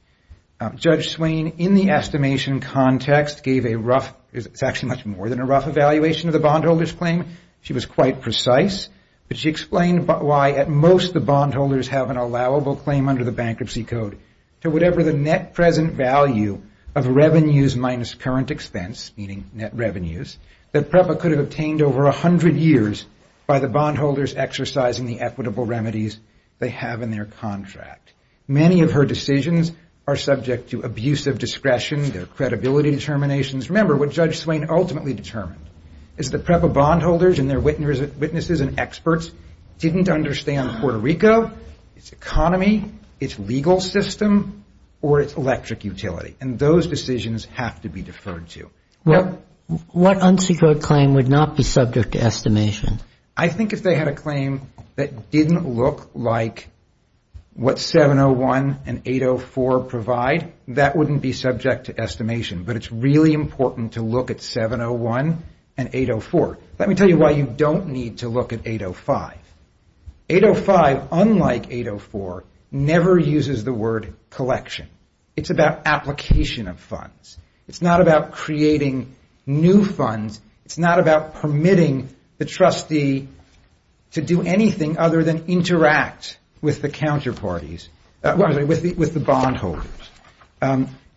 Judge Swain, in the estimation context, gave a rough, it's actually much more than a rough evaluation of the bondholder's claim. She was quite precise. She explained why at most the bondholders have an allowable claim under the Bankruptcy Code to whatever the net present value of revenues minus current expense, meaning net revenues, that PREPA could have obtained over 100 years by the bondholders exercising the equitable remedies they have in their contract. Many of her decisions are subject to abuse of discretion, their credibility determinations. Remember, what Judge Swain ultimately determined is that PREPA bondholders and their witnesses and experts didn't understand Puerto Rico, its economy, its legal system, or its electric utility, and those decisions have to be deferred to. What unsecured claim would not be subject to estimation? I think if they had a claim that didn't look like what 701 and 804 provide, that wouldn't be subject to estimation, but it's really important to look at 701 and 804. Let me tell you why you don't need to look at 805. 805, unlike 804, never uses the word collection. It's about application of funds. It's not about creating new funds. It's not about permitting the trustee to do anything other than interact with the counterparties, with the bondholders.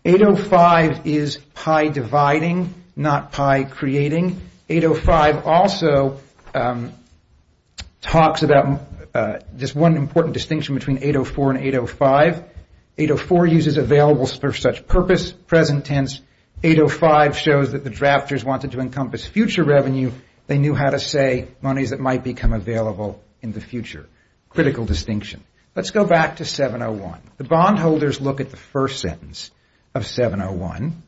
805 is pie dividing, not pie creating. 805 also talks about this one important distinction between 804 and 805. 804 uses available for such purpose, present tense. 805 shows that the drafters wanted to encompass future revenue. They knew how to say money that might become available in the future. Critical distinction. Let's go back to 701. The bondholders look at the first sentence of 701,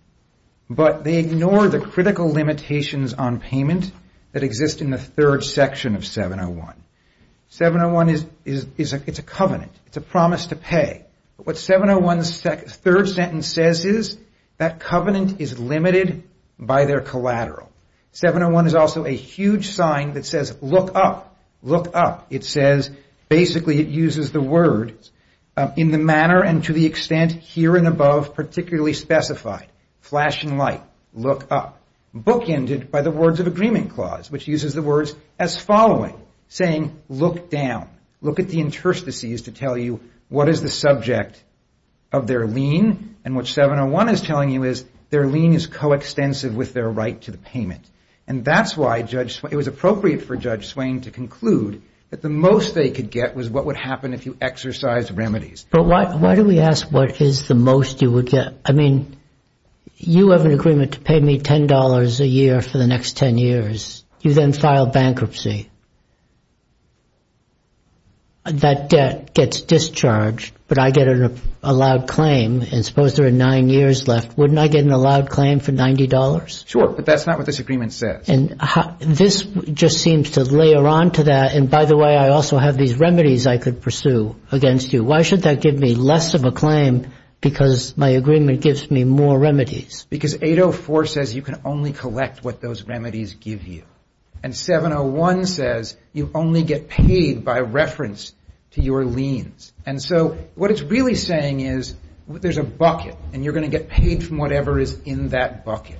but they ignore the critical limitations on payment that exist in the third section of 701. 701 is a covenant. It's a promise to pay. What 701's third sentence says is that covenant is limited by their collateral. 701 is also a huge sign that says, look up, look up. It says, basically it uses the word in the manner and to the extent here and above particularly specified. Flash and light. Look up. Bookended by the words of agreement clause, which uses the words as following, saying look down. Look at the interstices to tell you what is the subject of their lien, and what 701 is telling you is their lien is coextensive with their right to the payment. That's why it was appropriate for Judge Swain to conclude that the most they could get was what would happen if you exercised remedies. But why do we ask what is the most you would get? I mean, you have an agreement to pay me $10 a year for the next 10 years. You then file bankruptcy. That debt gets discharged, but I get an allowed claim. Suppose there are nine years left. Wouldn't I get an allowed claim for $90? Sure, but that's not what this agreement says. And this just seems to layer onto that, and by the way, I also have these remedies I could pursue against you. Why should that give me less of a claim because my agreement gives me more remedies? Because 804 says you can only collect what those remedies give you. And 701 says you only get paid by reference to your liens. And so what it's really saying is there's a bucket, and you're going to get paid from whatever is in that bucket.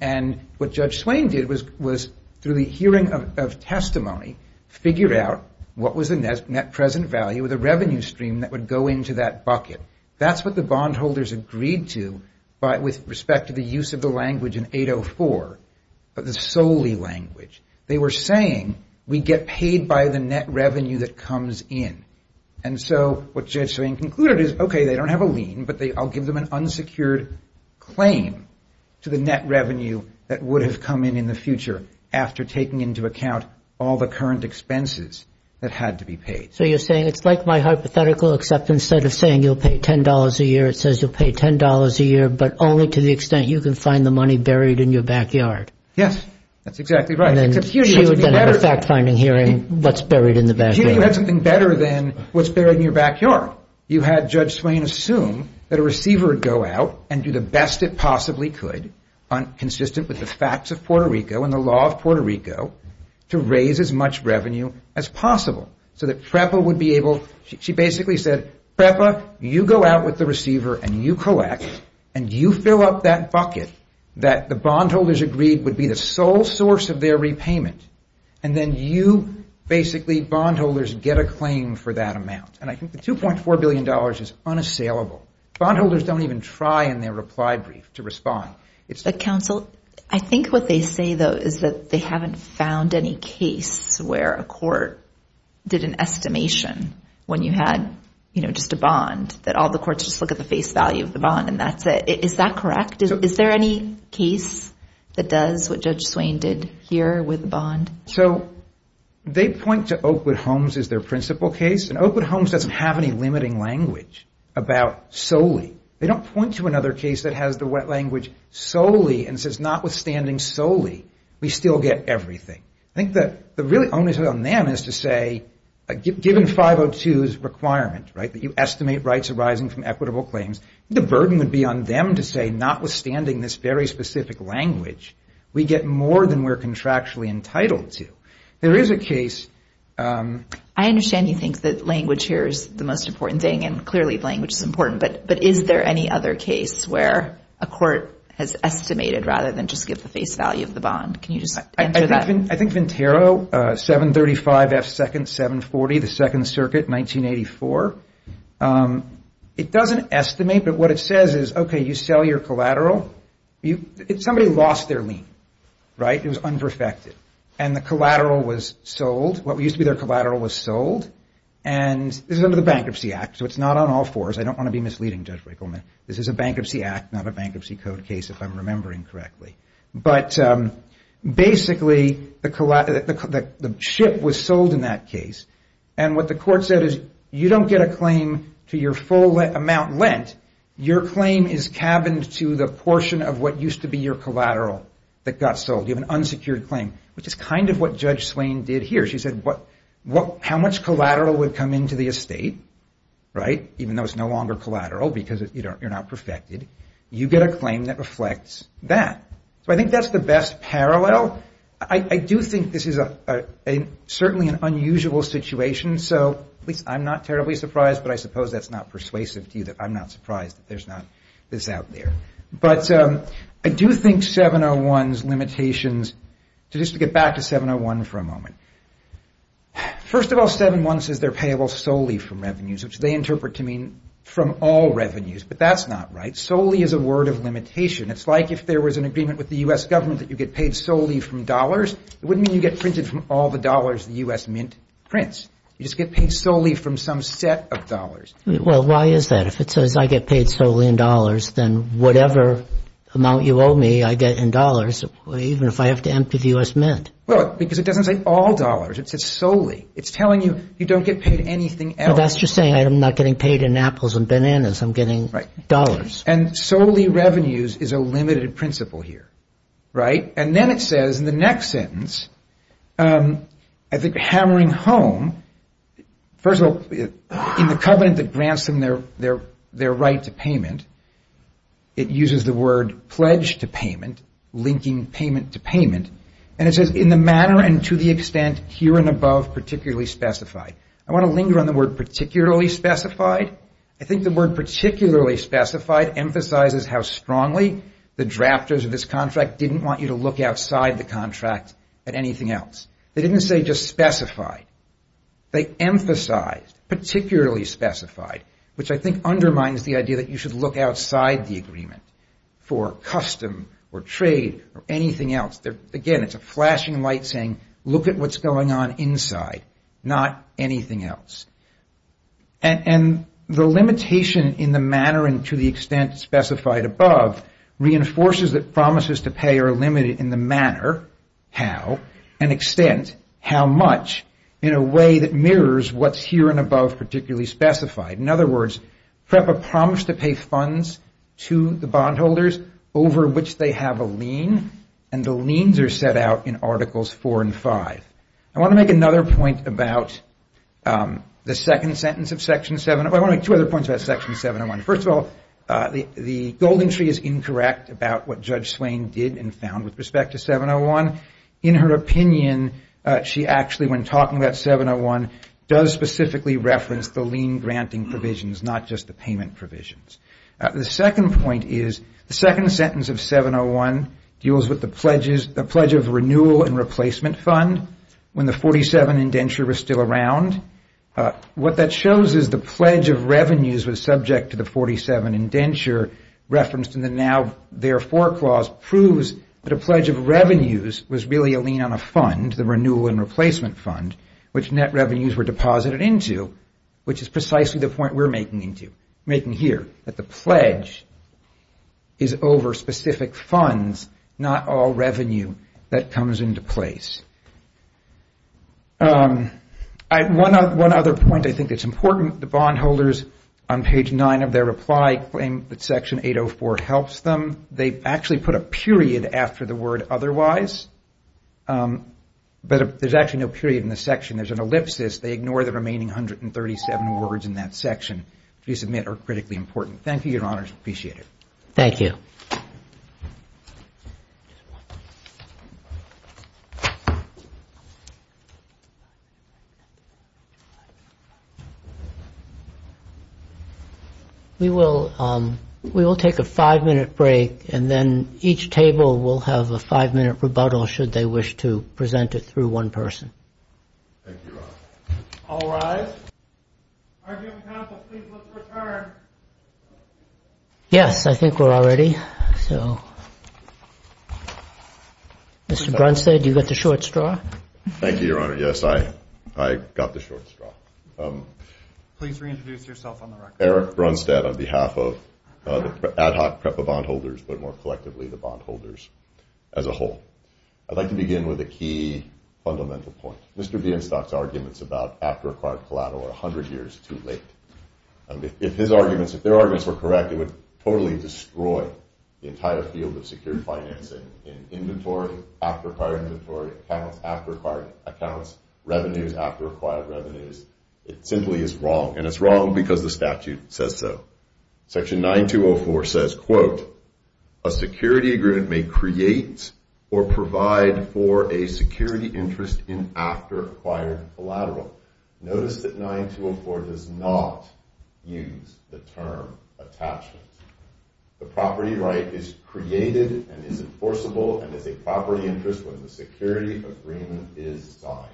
And what Judge Swain did was, through the hearing of testimony, figure out what was the net present value of the revenue stream that would go into that bucket. That's what the bondholders agreed to, but with respect to the use of the language in 804, the solely language. They were saying we get paid by the net revenue that comes in. And so what Judge Swain concluded is, okay, they don't have a lien, but I'll give them an unsecured claim to the net revenue that would have come in in the future after taking into account all the current expenses that had to be paid. So you're saying it's like my hypothetical, except instead of saying you'll pay $10 a year, it says you'll pay $10 a year, but only to the extent you can find the money buried in your backyard. Yes, that's exactly right. She would then have a fact-finding hearing that's buried in the backyard. She would have something better than what's buried in your backyard. You had Judge Swain assume that a receiver would go out and do the best it possibly could, consistent with the facts of Puerto Rico and the law of Puerto Rico, to raise as much revenue as possible. She basically said, Trepa, you go out with the receiver, and you collect, and you fill up that bucket that the bondholders agreed would be the sole source of their repayment, and then you, basically, bondholders, get a claim for that amount. And I think the $2.4 billion is unassailable. Bondholders don't even try in their reply brief to respond. Counsel, I think what they say, though, is that they haven't found any case where a court did an estimation when you had just a bond, that all the courts just look at the face value of the bond, and that's it. Is that correct? Is there any case that does what Judge Swain did here with bond? So they point to Oakwood Homes as their principal case, and Oakwood Homes doesn't have any limiting language about solely. They don't point to another case that has the wet language, solely, and says, notwithstanding solely, we still get everything. I think that the really only thing on them is to say, given 502's requirements, right, that you estimate rights arising from equitable claims, I think the burden would be on them to say, notwithstanding this very specific language, we get more than we're contractually entitled to. There is a case. I understand you think that language here is the most important thing, and clearly language is important, but is there any other case where a court has estimated rather than just give the face value of the bond? Can you just answer that? I think Ventero, 735 S. 2nd, 740, the Second Circuit, 1984. It doesn't estimate, but what it says is, okay, you sell your collateral. Somebody lost their lien, right? It was under-affected, and the collateral was sold. What used to be their collateral was sold, and this is under the Bankruptcy Act, so it's not on all fours. I don't want to be misleading, Judge Wigelman. This is a Bankruptcy Act, not a Bankruptcy Code case, if I'm remembering correctly. But basically, the ship was sold in that case, and what the court said is, you don't get a claim to your full amount lent. Your claim is cabined to the portion of what used to be your collateral that got sold. You have an unsecured claim, which is kind of what Judge Slane did here. She said, how much collateral would come into the estate, right? Even though it's no longer collateral because you're not perfected, you get a claim that reflects that. So I think that's the best parallel. I do think this is certainly an unusual situation, so I'm not terribly surprised, but I suppose that's not persuasive to you that I'm not surprised that there's not this out there. But I do think 701's limitations, just to get back to 701 for a moment. First of all, 701 says they're payable solely from revenues, which they interpret to mean from all revenues, but that's not right. Solely is a word of limitation. It's like if there was an agreement with the U.S. government that you get paid solely from dollars. It wouldn't mean you get printed from all the dollars the U.S. Mint prints. You just get paid solely from some set of dollars. Well, why is that? If it says I get paid solely in dollars, then whatever amount you owe me I get in dollars, even if I have to empty the U.S. Mint. Well, because it doesn't say all dollars. It says solely. It's telling you you don't get paid anything else. That's just saying I'm not getting paid in apples and bananas. I'm getting dollars. And solely revenues is a limited principle here, right? And then it says in the next sentence, I think hammering home, first of all, in the covenant that grants them their right to payment, it uses the word pledge to payment, linking payment to payment. And it says in the manner and to the extent here and above particularly specified. I want to linger on the word particularly specified. I think the word particularly specified emphasizes how strongly the drafters of this contract didn't want you to look outside the contract at anything else. They didn't say just specified. They emphasized particularly specified, which I think undermines the idea that you should look outside the agreement for custom or trade or anything else. Again, it's a flashing light saying look at what's going on inside, not anything else. And the limitation in the manner and to the extent specified above reinforces that promises to pay are limited in the manner, how, and extent, how much, in a way that mirrors what's here and above particularly specified. In other words, PREPA promised to pay funds to the bondholders over which they have a lien. And the liens are set out in Articles 4 and 5. I want to make another point about the second sentence of Section 701. I want to make two other points about Section 701. First of all, the gold entry is incorrect about what Judge Swain did and found with respect to 701. In her opinion, she actually, when talking about 701, does specifically reference the lien-granting provisions, not just the payment provisions. The second point is the second sentence of 701 deals with the pledge of renewal and replacement fund when the 47 indenture was still around. What that shows is the pledge of revenues was subject to the 47 indenture referenced in the now therefore clause proves that a pledge of revenues was really a lien on a fund, the renewal and replacement fund, which net revenues were deposited into, which is precisely the point we're making here, that the pledge is over specific funds, not all revenue that comes into place. One other point I think that's important, the bondholders on page 9 of their reply claim that Section 804 helps them. They actually put a period after the word otherwise, but there's actually no period in this section. There's an ellipsis. They ignore the remaining 137 words in that section to submit are critically important. Thank you, Your Honors. Appreciate it. Thank you. We will take a five-minute break, and then each table will have a five-minute rebuttal, should they wish to present it through one person. Thank you, Your Honors. All rise. Arguing counsel, please let's return. Yes, I think we're all ready. Mr. Brunstad, you got the short straw. Thank you, Your Honor. Yes, I got the short straw. Please reintroduce yourself on the record. Eric Brunstad on behalf of the ad hoc PREPA bondholders, but more collectively the bondholders as a whole. I'd like to begin with a key fundamental point. Mr. Bienstock's arguments about after-acquired collateral are 100 years too late. If his arguments, if their arguments were correct, it would totally destroy the entire field of security financing in inventory, after-acquired inventory, accounts, revenues, after-acquired revenues. It simply is wrong, and it's wrong because the statute says so. Section 9204 says, quote, a security agreement may create or provide for a security interest in after-acquired collateral. Notice that 9204 does not use the term attachment. The property right is created and is enforceable and is a property interest when the security agreement is signed.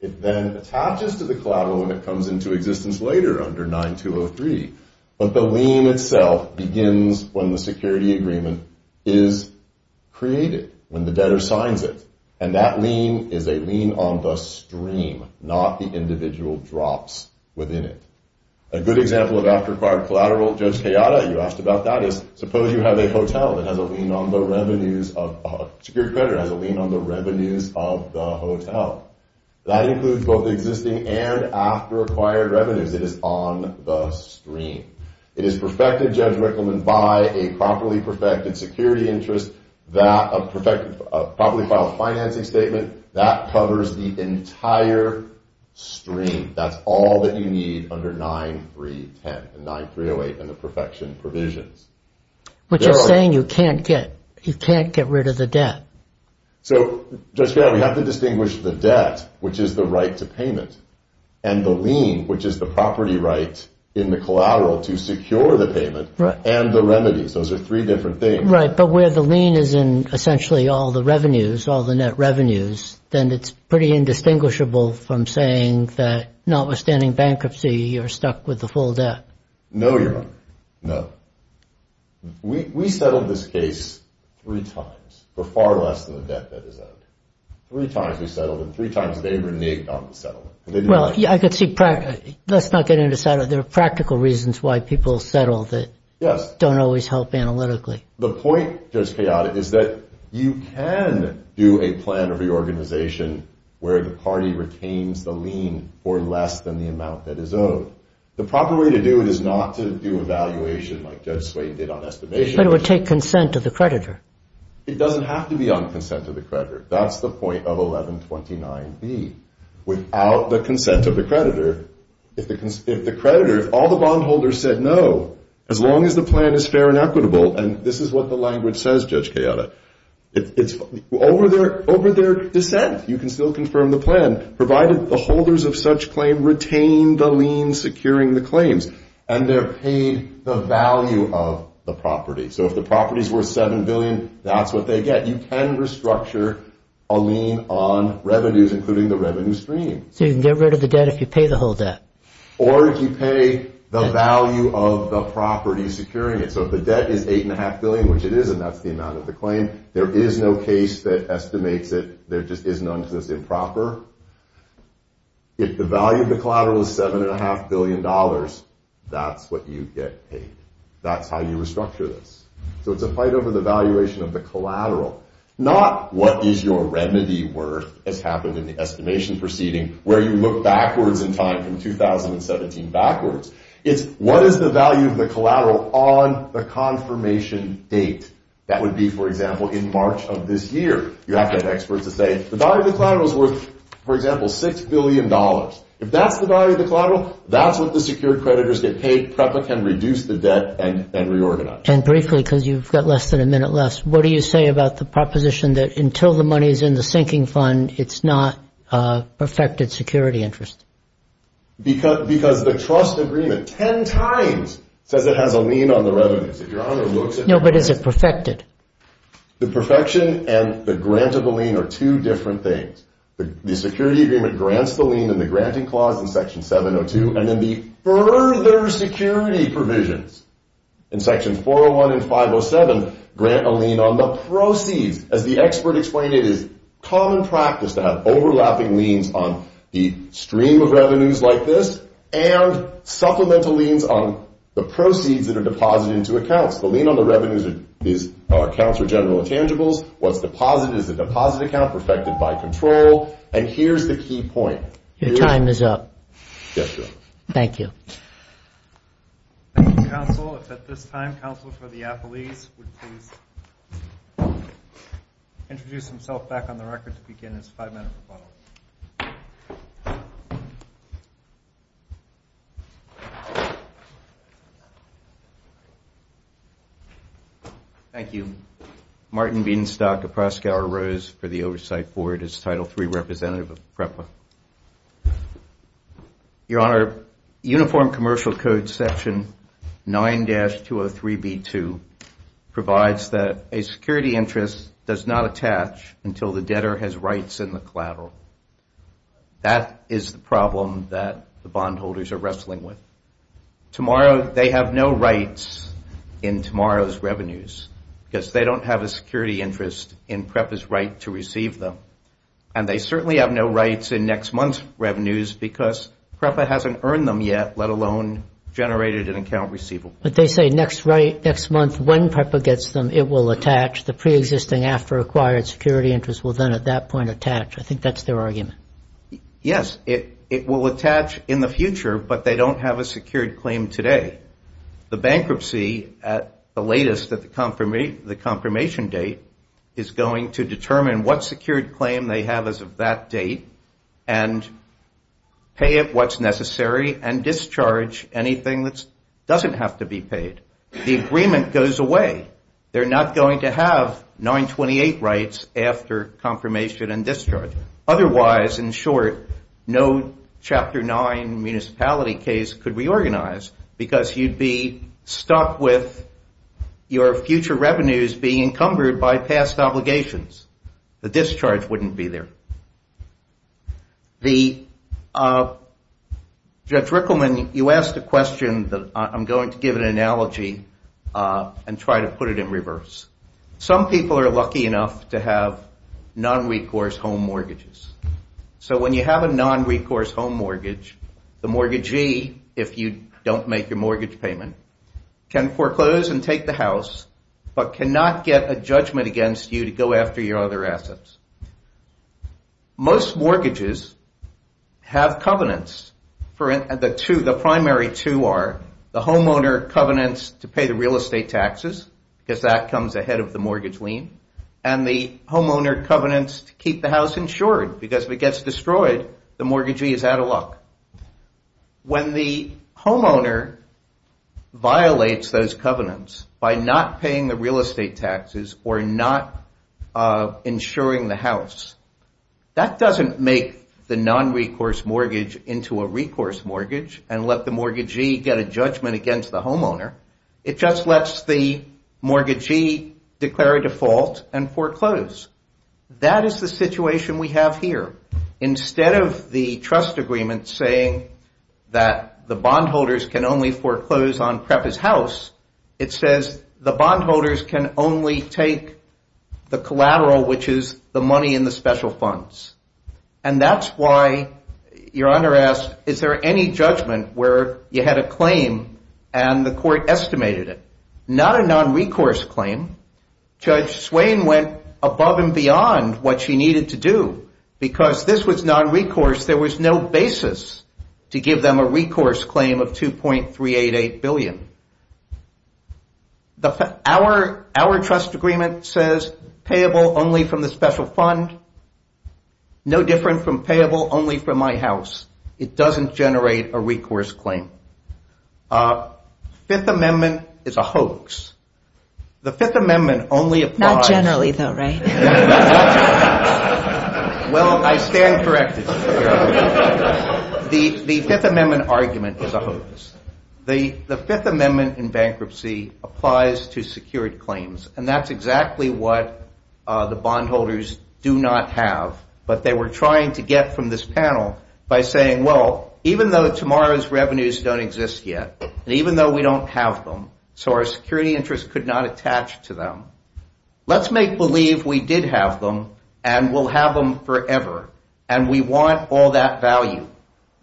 It then attaches to the collateral when it comes into existence later under 9203, but the lien itself begins when the security agreement is created, when the debtor signs it, and that lien is a lien on the stream, not the individual drops within it. A good example of after-acquired collateral, Judge Hayata, you asked about that, is suppose you have a hotel that has a lien on the revenues of, your credit has a lien on the revenues of the hotel. That includes both existing and after-acquired revenues. It is on the stream. It is perfected, Judge Rickleman, by a properly perfected security interest, a properly filed financing statement. That covers the entire stream. That's all that you need under 9310 and 9308 in the perfection provision. But you're saying you can't get rid of the debt. So, Judge Hayata, we have to distinguish the debt, which is the right to payment, and the lien, which is the property right in the collateral to secure the payment, and the remedies. Those are three different things. Right. But where the lien is in essentially all the revenues, all the net revenues, then it's pretty indistinguishable from saying that notwithstanding bankruptcy, you're stuck with the full debt. No, you're not. No. We've settled this case three times. We're far less than the debt that is out there. Three times we've settled it. Three times that Avery and me have gone to settle it. Well, let's not get into settlement. There are practical reasons why people settle that don't always help analytically. The point, Judge Hayata, is that you can do a plan of reorganization where the party retains the lien for less than the amount that is owed. The proper way to do it is not to do evaluation like Judge Swain did on estimation. But it would take consent of the creditor. It doesn't have to be on the consent of the creditor. That's the point of 1129B. Without the consent of the creditor, if the creditor, all the bondholders said no, as long as the plan is fair and equitable, and this is what the language says, Judge Hayata, over their dissent, you can still confirm the plan, provided the holders of such claim retain the lien securing the claims, and they're paid the value of the property. So if the property is worth $7 billion, that's what they get. You can restructure a lien on revenues, including the revenue stream. You can get rid of the debt if you pay the whole debt. Or if you pay the value of the property securing it. So if the debt is $8.5 billion, which it is, and that's the amount of the claim, there is no case that estimates it. There just is none, so it's improper. If the value of the collateral is $7.5 billion, that's what you get paid. That's how you restructure this. So it's a fight over the valuation of the collateral, not what is your remedy worth, as happened in the estimation proceeding, where you look backwards in time from 2017 backwards. It's what is the value of the collateral on the confirmation date. That would be, for example, in March of this year. You have to have experts that say the value of the collateral is worth, for example, $6 billion. If that's the value of the collateral, that's what the secured creditors get paid because it can reduce the debt and reorganize it. And briefly, because you've got less than a minute left, what do you say about the proposition that until the money is in the sinking fund, it's not a perfected security interest? Because the trust agreement 10 times says it has a lien on the revenue. No, but is it perfected? The perfection and the grant of the lien are two different things. The security agreement grants the lien in the granting clause in Section 702, and in the further security provisions in Section 401 and 507, grant a lien on the proceeds. As the expert explained, it is common practice to have overlapping liens on the stream of revenues like this and supplemental liens on the proceeds that are deposited into accounts. The lien on the revenues accounts for general intangibles. What's deposited is the deposit account perfected by control. And here's the key point. Your time is up. Yes, sir. Thank you. Thank you, counsel. At this time, counsel for the athletes would please introduce themselves back on the record to begin this five-minute rebuttal. Thank you. My name is Martin Beanstock, and Proscauer Rose for the Oversight Board is Title III representative of PREPA. Your Honor, Uniform Commercial Code Section 9-203b2 provides that a security interest does not attach until the debtor has rights in the collateral. That is the problem that the bondholders are wrestling with. They have no rights in tomorrow's revenues because they don't have a security interest in PREPA's right to receive them. And they certainly have no rights in next month's revenues because PREPA hasn't earned them yet, let alone generated an account receivable. But they say next month when PREPA gets them, it will attach. The preexisting after-acquired security interest will then at that point attach. I think that's their argument. Yes, it will attach in the future, but they don't have a secured claim today. The bankruptcy at the latest, at the confirmation date, is going to determine what secured claim they have as of that date and pay it what's necessary and discharge anything that doesn't have to be paid. The agreement goes away. They're not going to have 928 rights after confirmation and discharge. Otherwise, in short, no Chapter 9 municipality case could be organized because you'd be stuck with your future revenues being encumbered by past obligations. The discharge wouldn't be there. Judge Rickleman, you asked a question that I'm going to give an analogy and try to put it in reverse. Some people are lucky enough to have non-recourse home mortgages. So when you have a non-recourse home mortgage, the mortgagee, if you don't make your mortgage payment, can foreclose and take the house but cannot get a judgment against you to go after your other assets. Most mortgages have covenants. The primary two are the homeowner covenants to pay the real estate taxes, because that comes ahead of the mortgage lien, and the homeowner covenants to keep the house insured because if it gets destroyed, the mortgagee is out of luck. When the homeowner violates those covenants by not paying the real estate taxes or not insuring the house, that doesn't make the non-recourse mortgage into a recourse mortgage and let the mortgagee get a judgment against the homeowner. It just lets the mortgagee declare a default and foreclose. That is the situation we have here. Instead of the trust agreement saying that the bondholders can only foreclose on PREP as house, it says the bondholders can only take the collateral, which is the money in the special funds. And that's why your honor asked, is there any judgment where you had a claim and the court estimated it? Not a non-recourse claim. Judge Swain went above and beyond what she needed to do. Because this was non-recourse, there was no basis to give them a recourse claim of $2.388 billion. Our trust agreement says payable only from the special fund, no different from payable only from my house. It doesn't generate a recourse claim. Fifth Amendment is a hoax. The Fifth Amendment only applies... Not generally though, right? Well, I stand corrected. The Fifth Amendment argument is a hoax. The Fifth Amendment in bankruptcy applies to secured claims. And that's exactly what the bondholders do not have. But they were trying to get from this panel by saying, well, even though tomorrow's revenues don't exist yet, and even though we don't have them, so our security interest could not attach to them, let's make believe we did have them and we'll have them forever. And we want all that value.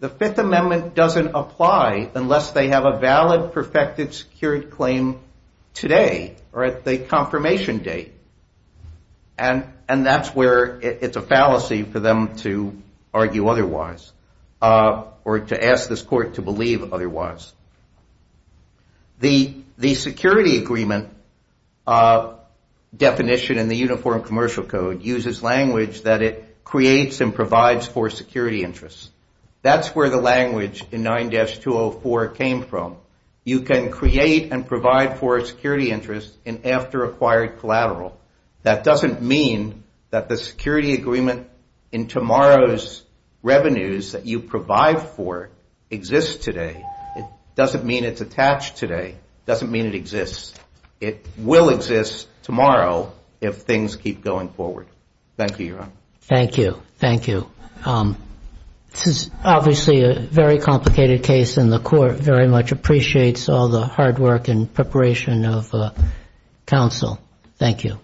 The Fifth Amendment doesn't apply unless they have a valid, perfected, secured claim today, or it's a confirmation date. And that's where it's a fallacy for them to argue otherwise or to ask this court to believe otherwise. The security agreement definition in the Uniform Commercial Code uses language that it creates and provides for security interests. That's where the language in 9-204 came from. You can create and provide for a security interest in after-acquired collateral. That doesn't mean that the security agreement in tomorrow's revenues that you provide for exists today. It doesn't mean it's attached today. It doesn't mean it exists. It will exist tomorrow if things keep going forward. Thank you, Your Honor. Thank you. Thank you. This is obviously a very complicated case, and the court very much appreciates all the hard work and preparation of counsel. Thank you.